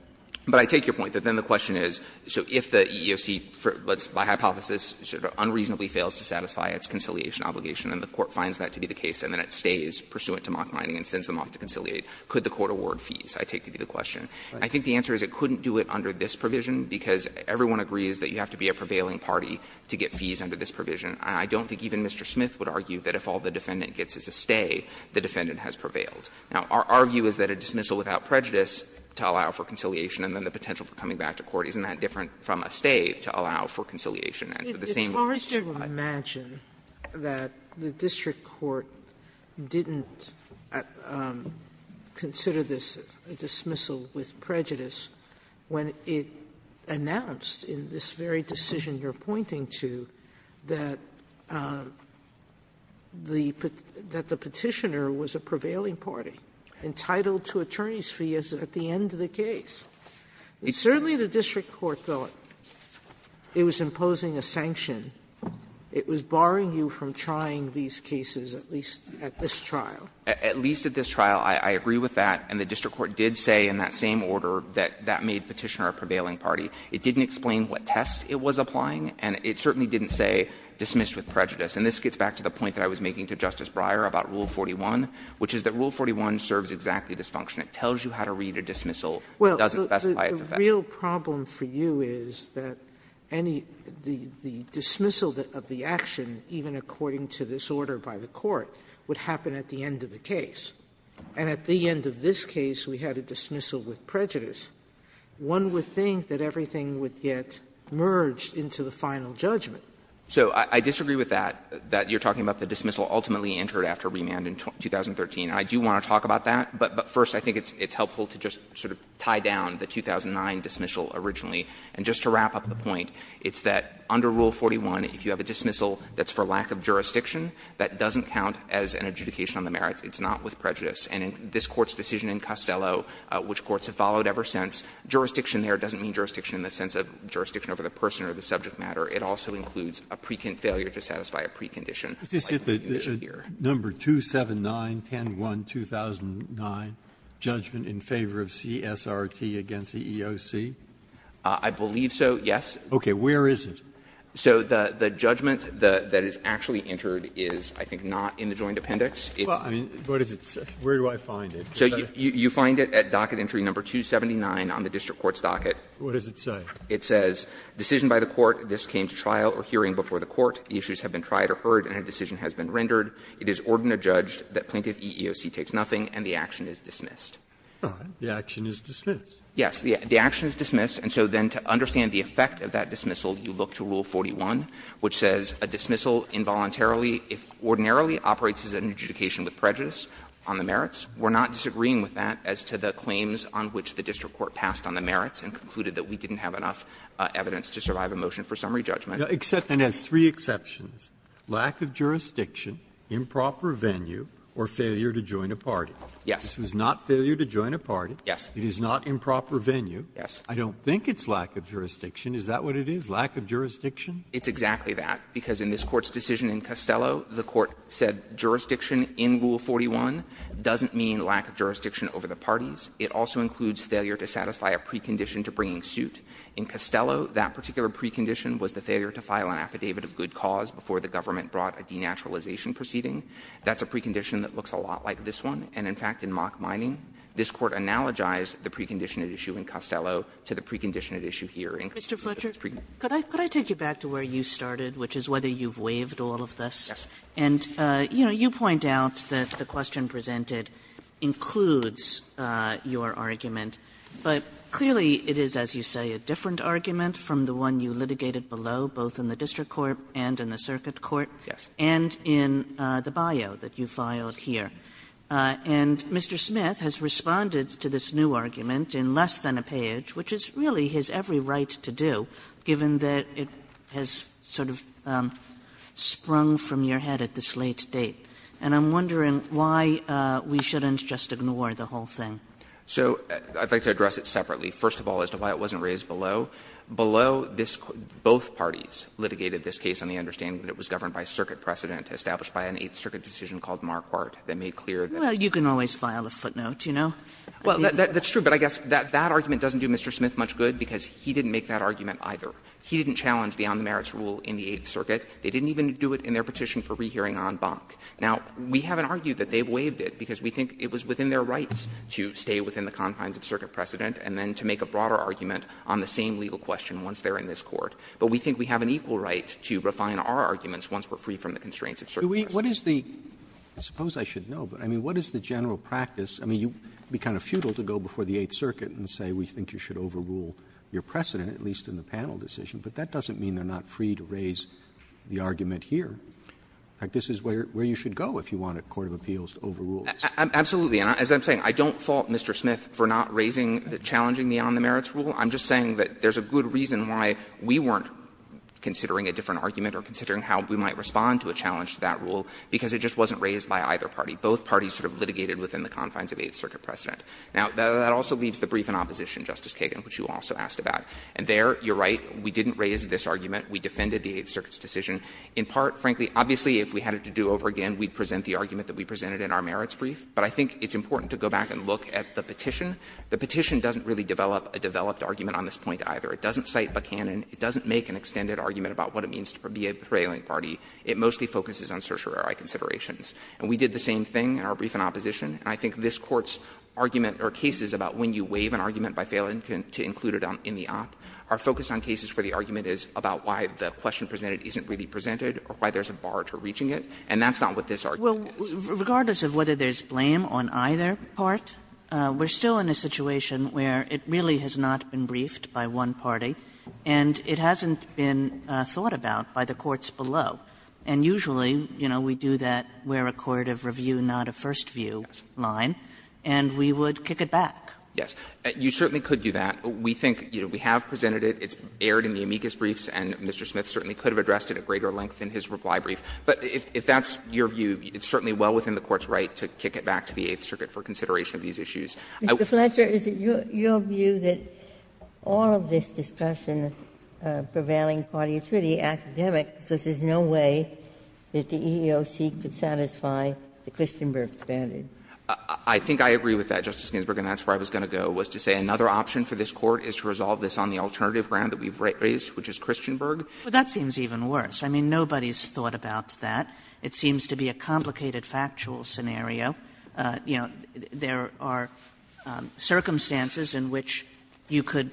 But I take your point that then the question is, so if the EEOC, let's by hypothesis sort of unreasonably fails to satisfy its conciliation obligation and the court finds that to be the case and then it stays pursuant to mock mining and sends them off to conciliate, could the court award fees, I take to be the question. I think the answer is it couldn't do it under this provision because everyone agrees that you have to be a prevailing party to get fees under this provision. I don't think even Mr. Smith would argue that if all the defendant gets is a stay, the defendant has prevailed. Now, our view is that a dismissal without prejudice to allow for conciliation and then the potential for coming back to court isn't that different from a stay to allow for conciliation and for the same reason. Sotomayor, it's hard to imagine that the district court didn't consider this a dismissal with prejudice when it announced in this very decision you're pointing to that the Petitioner was a prevailing party entitled to attorney's fees at the end of the case. Certainly, the district court thought it was imposing a sanction. It was barring you from trying these cases, at least at this trial. At least at this trial, I agree with that, and the district court did say in that same order that that made Petitioner a prevailing party. It didn't explain what test it was applying, and it certainly didn't say dismissed with prejudice. And this gets back to the point that I was making to Justice Breyer about Rule 41, which is that Rule 41 serves exactly this function. It tells you how to read a dismissal. It doesn't specify its effect. Sotomayor, the real problem for you is that any the dismissal of the action, even according to this order by the court, would happen at the end of the case. And at the end of this case, we had a dismissal with prejudice. One would think that everything would get merged into the final judgment. So I disagree with that, that you're talking about the dismissal ultimately entered after remand in 2013. And I do want to talk about that, but first I think it's helpful to just sort of tie down the 2009 dismissal originally. And just to wrap up the point, it's that under Rule 41, if you have a dismissal that's for lack of jurisdiction, that doesn't count as an adjudication on the merits. It's not with prejudice. And in this Court's decision in Costello, which courts have followed ever since, jurisdiction there doesn't mean jurisdiction in the sense of jurisdiction over the person or the subject matter. It also includes a precondition, failure to satisfy a precondition. Breyer, is this at the number 279101-2009, judgment in favor of CSRT against the EOC? I believe so, yes. Okay. Where is it? So the judgment that is actually entered is, I think, not in the joint appendix. Well, I mean, what does it say? Where do I find it? So you find it at docket entry number 279 on the district court's docket. What does it say? It says, All right. The action is dismissed. Yes. The action is dismissed. And so then to understand the effect of that dismissal, you look to Rule 41, which says a dismissal involuntarily, if ordinarily, operates as an adjudication with prejudice on the merits. We're not disagreeing with that as to the claims on which the district court passed on the merits and concluded that we didn't have enough evidence to survive a motion for summary judgment. And it has three exceptions, lack of jurisdiction, improper venue, or failure to join a party. Yes. This was not failure to join a party. Yes. It is not improper venue. Yes. I don't think it's lack of jurisdiction. Is that what it is, lack of jurisdiction? It's exactly that, because in this Court's decision in Costello, the Court said jurisdiction in Rule 41 doesn't mean lack of jurisdiction over the parties. It also includes failure to satisfy a precondition to bringing suit. In Costello, that particular precondition was the failure to file an affidavit of good cause before the government brought a denaturalization proceeding. That's a precondition that looks a lot like this one. And, in fact, in mock mining, this Court analogized the precondition at issue in Costello to the precondition at issue here. Mr. Fletcher, could I take you back to where you started, which is whether you've waived all of this? Yes. And, you know, you point out that the question presented includes your argument. But clearly it is, as you say, a different argument from the one you litigated below, both in the district court and in the circuit court and in the bio that you filed here. And Mr. Smith has responded to this new argument in less than a page, which is really his every right to do, given that it has sort of sprung from your head at this late date. And I'm wondering why we shouldn't just ignore the whole thing. So I'd like to address it separately. First of all, as to why it wasn't raised below, below this quote, both parties litigated this case on the understanding that it was governed by circuit precedent established by an Eighth Circuit decision called Marquardt that made clear that Well, you can always file a footnote, you know. Well, that's true, but I guess that argument doesn't do Mr. Smith much good, because he didn't make that argument either. He didn't challenge the on-merits rule in the Eighth Circuit. They didn't even do it in their petition for rehearing en banc. Now, we haven't argued that they've waived it, because we think it was within their rights to stay within the confines of circuit precedent and then to make a broader argument on the same legal question once they're in this Court. But we think we have an equal right to refine our arguments once we're free from the constraints of circuit precedent. Roberts. Roberts. Roberts. Roberts. Roberts. Roberts. Roberts. Roberts. Roberts. Roberts. I mean, you'd be kind of futile to go before the Eighth Circuit and say we think you should overrule your precedent, at least in the panel decision, but that doesn't mean they're not free to raise the argument here. In fact, this is where you should go if you want a court of appeals to overrule this. Absolutely. And as I'm saying, I don't fault Mr. Smith for not raising, challenging the on-merits rule. I'm just saying that there's a good reason why we weren't considering a different challenge to that rule, because it just wasn't raised by either party. Both parties sort of litigated within the confines of Eighth Circuit precedent. Now, that also leaves the brief in opposition, Justice Kagan, which you also asked about. And there, you're right, we didn't raise this argument. We defended the Eighth Circuit's decision. In part, frankly, obviously, if we had it to do over again, we'd present the argument that we presented in our merits brief. But I think it's important to go back and look at the petition. The petition doesn't really develop a developed argument on this point either. It doesn't cite Buchanan. It doesn't make an extended argument about what it means to be a prevailing party. It mostly focuses on certiorari considerations. And we did the same thing in our brief in opposition. And I think this Court's argument or cases about when you waive an argument by failing to include it in the op are focused on cases where the argument is about why the question presented isn't really presented or why there's a bar to reaching it. And that's not what this argument is. Kagan. Kagan. Well, regardless of whether there's blame on either part, we're still in a situation where it really has not been briefed by one party and it hasn't been thought about by the courts below. And usually, you know, we do that where a court of review, not a first view line, and we would kick it back. Yes. You certainly could do that. We think, you know, we have presented it. It's aired in the amicus briefs, and Mr. Smith certainly could have addressed it at greater length in his reply brief. But if that's your view, it's certainly well within the Court's right to kick it back to the Eighth Circuit for consideration of these issues. Mr. Fletcher, is it your view that all of this discussion prevailing party, it's the academic, because there's no way that the EEOC could satisfy the Christenberg standard? I think I agree with that, Justice Ginsburg, and that's where I was going to go, was to say another option for this Court is to resolve this on the alternative ground that we've raised, which is Christenberg. Well, that seems even worse. I mean, nobody's thought about that. It seems to be a complicated factual scenario. You know, there are circumstances in which you could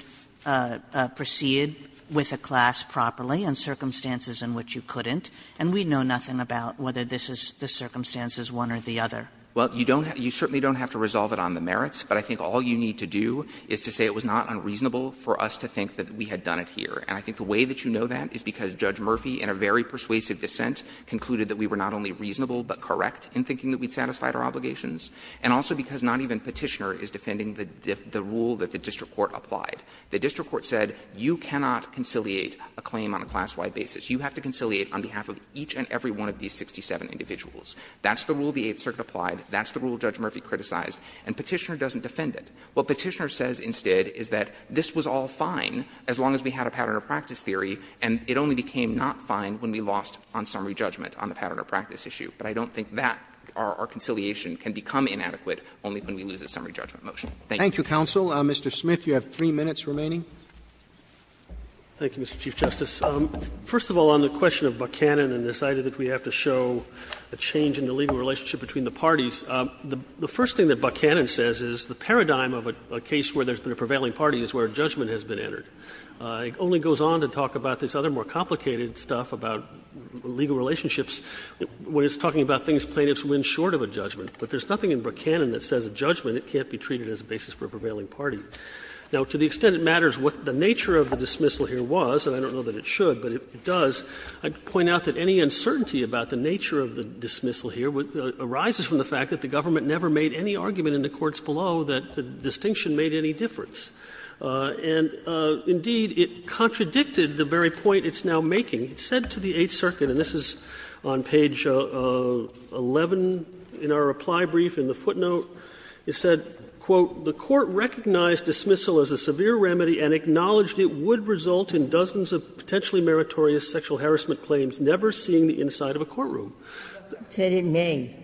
proceed with a class properly and circumstances in which you couldn't, and we know nothing about whether this is the circumstances one or the other. Well, you don't have to resolve it on the merits, but I think all you need to do is to say it was not unreasonable for us to think that we had done it here. And I think the way that you know that is because Judge Murphy, in a very persuasive dissent, concluded that we were not only reasonable but correct in thinking that we'd satisfied our obligations, and also because not even Petitioner is defending the rule that the district court applied. The district court said you cannot conciliate a claim on a class-wide basis. You have to conciliate on behalf of each and every one of these 67 individuals. That's the rule the Eighth Circuit applied. That's the rule Judge Murphy criticized. And Petitioner doesn't defend it. What Petitioner says instead is that this was all fine as long as we had a pattern of practice theory, and it only became not fine when we lost on summary judgment on the pattern of practice issue. But I don't think that our conciliation can become inadequate only when we lose a summary judgment motion. Thank you. Roberts. Roberts. Thank you, counsel. Mr. Smith, you have 3 minutes remaining. Smith. Thank you, Mr. Chief Justice. First of all, on the question of Buchanan and this idea that we have to show a change in the legal relationship between the parties, the first thing that Buchanan says is the paradigm of a case where there's been a prevailing party is where judgment has been entered. It only goes on to talk about this other more complicated stuff about legal relationships when it's talking about things plaintiffs win short of a judgment. But there's nothing in Buchanan that says a judgment, it can't be treated as a basis for a prevailing party. Now, to the extent it matters what the nature of the dismissal here was, and I don't know that it should, but it does, I'd point out that any uncertainty about the nature of the dismissal here arises from the fact that the government never made any argument in the courts below that the distinction made any difference. And, indeed, it contradicted the very point it's now making. It said to the Eighth Circuit, and this is on page 11 in our reply brief in the footnote, it said, quote, ''The Court recognized dismissal as a severe remedy and acknowledged it would result in dozens of potentially meritorious sexual harassment claims, never seeing the inside of a courtroom.'' Ginsburg. It said it may.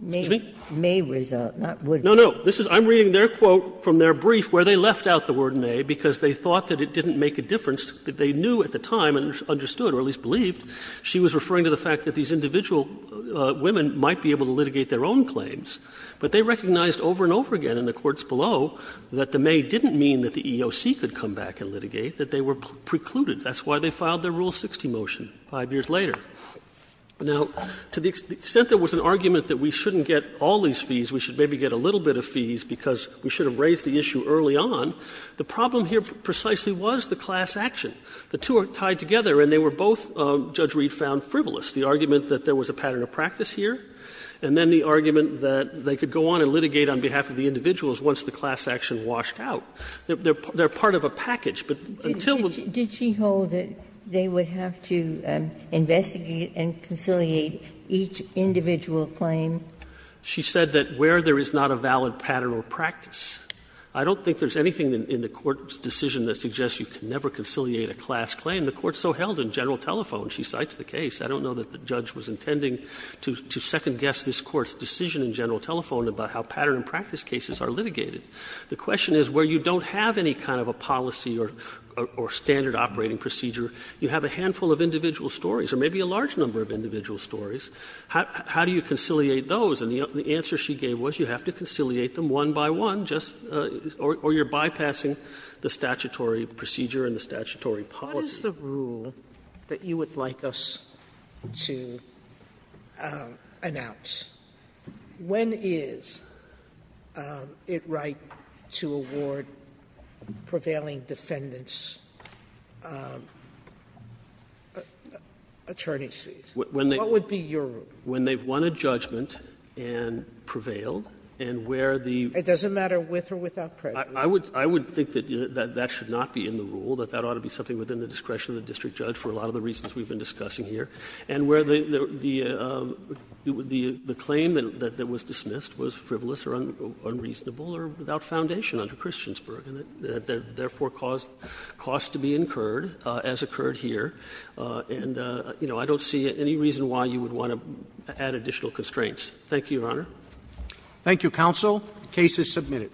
May. May result, not would. No, no. I'm reading their quote from their brief where they left out the word ''may'' because they thought that it didn't make a difference, that they knew at the time and understood or at least believed she was referring to the fact that these individual women might be able to litigate their own claims. But they recognized over and over again in the courts below that the ''may'' didn't mean that the EOC could come back and litigate, that they were precluded. That's why they filed their Rule 60 motion 5 years later. Now, to the extent there was an argument that we shouldn't get all these fees, we should maybe get a little bit of fees because we should have raised the issue early on, the problem here precisely was the class action. The two are tied together and they were both, Judge Reed found, frivolous. The argument that there was a pattern of practice here and then the argument that they could go on and litigate on behalf of the individuals once the class action washed out. They're part of a package, but until we're Ginsburg did she hold that they would have to investigate and conciliate each individual claim? She said that where there is not a valid pattern or practice. I don't think there's anything in the Court's decision that suggests you can never conciliate a class claim. The Court so held in General Telephone, she cites the case. I don't know that the judge was intending to second-guess this Court's decision in General Telephone about how pattern and practice cases are litigated. The question is where you don't have any kind of a policy or standard operating procedure, you have a handful of individual stories or maybe a large number of individual stories, how do you conciliate those? And the answer she gave was you have to conciliate them one by one, just or you're not going to have a statutory policy. Sotomayor, what is the rule that you would like us to announce? When is it right to award prevailing defendants' attorney's fees? What would be your rule? When they've won a judgment and prevailed and where the ---- It doesn't matter with or without prejudice. I would think that that should not be in the rule, that that ought to be something within the discretion of the district judge for a lot of the reasons we've been discussing here. And where the claim that was dismissed was frivolous or unreasonable or without foundation under Christiansburg, and therefore caused costs to be incurred, as occurred here. And I don't see any reason why you would want to add additional constraints. Thank you, Your Honor. Thank you, counsel. The case is submitted.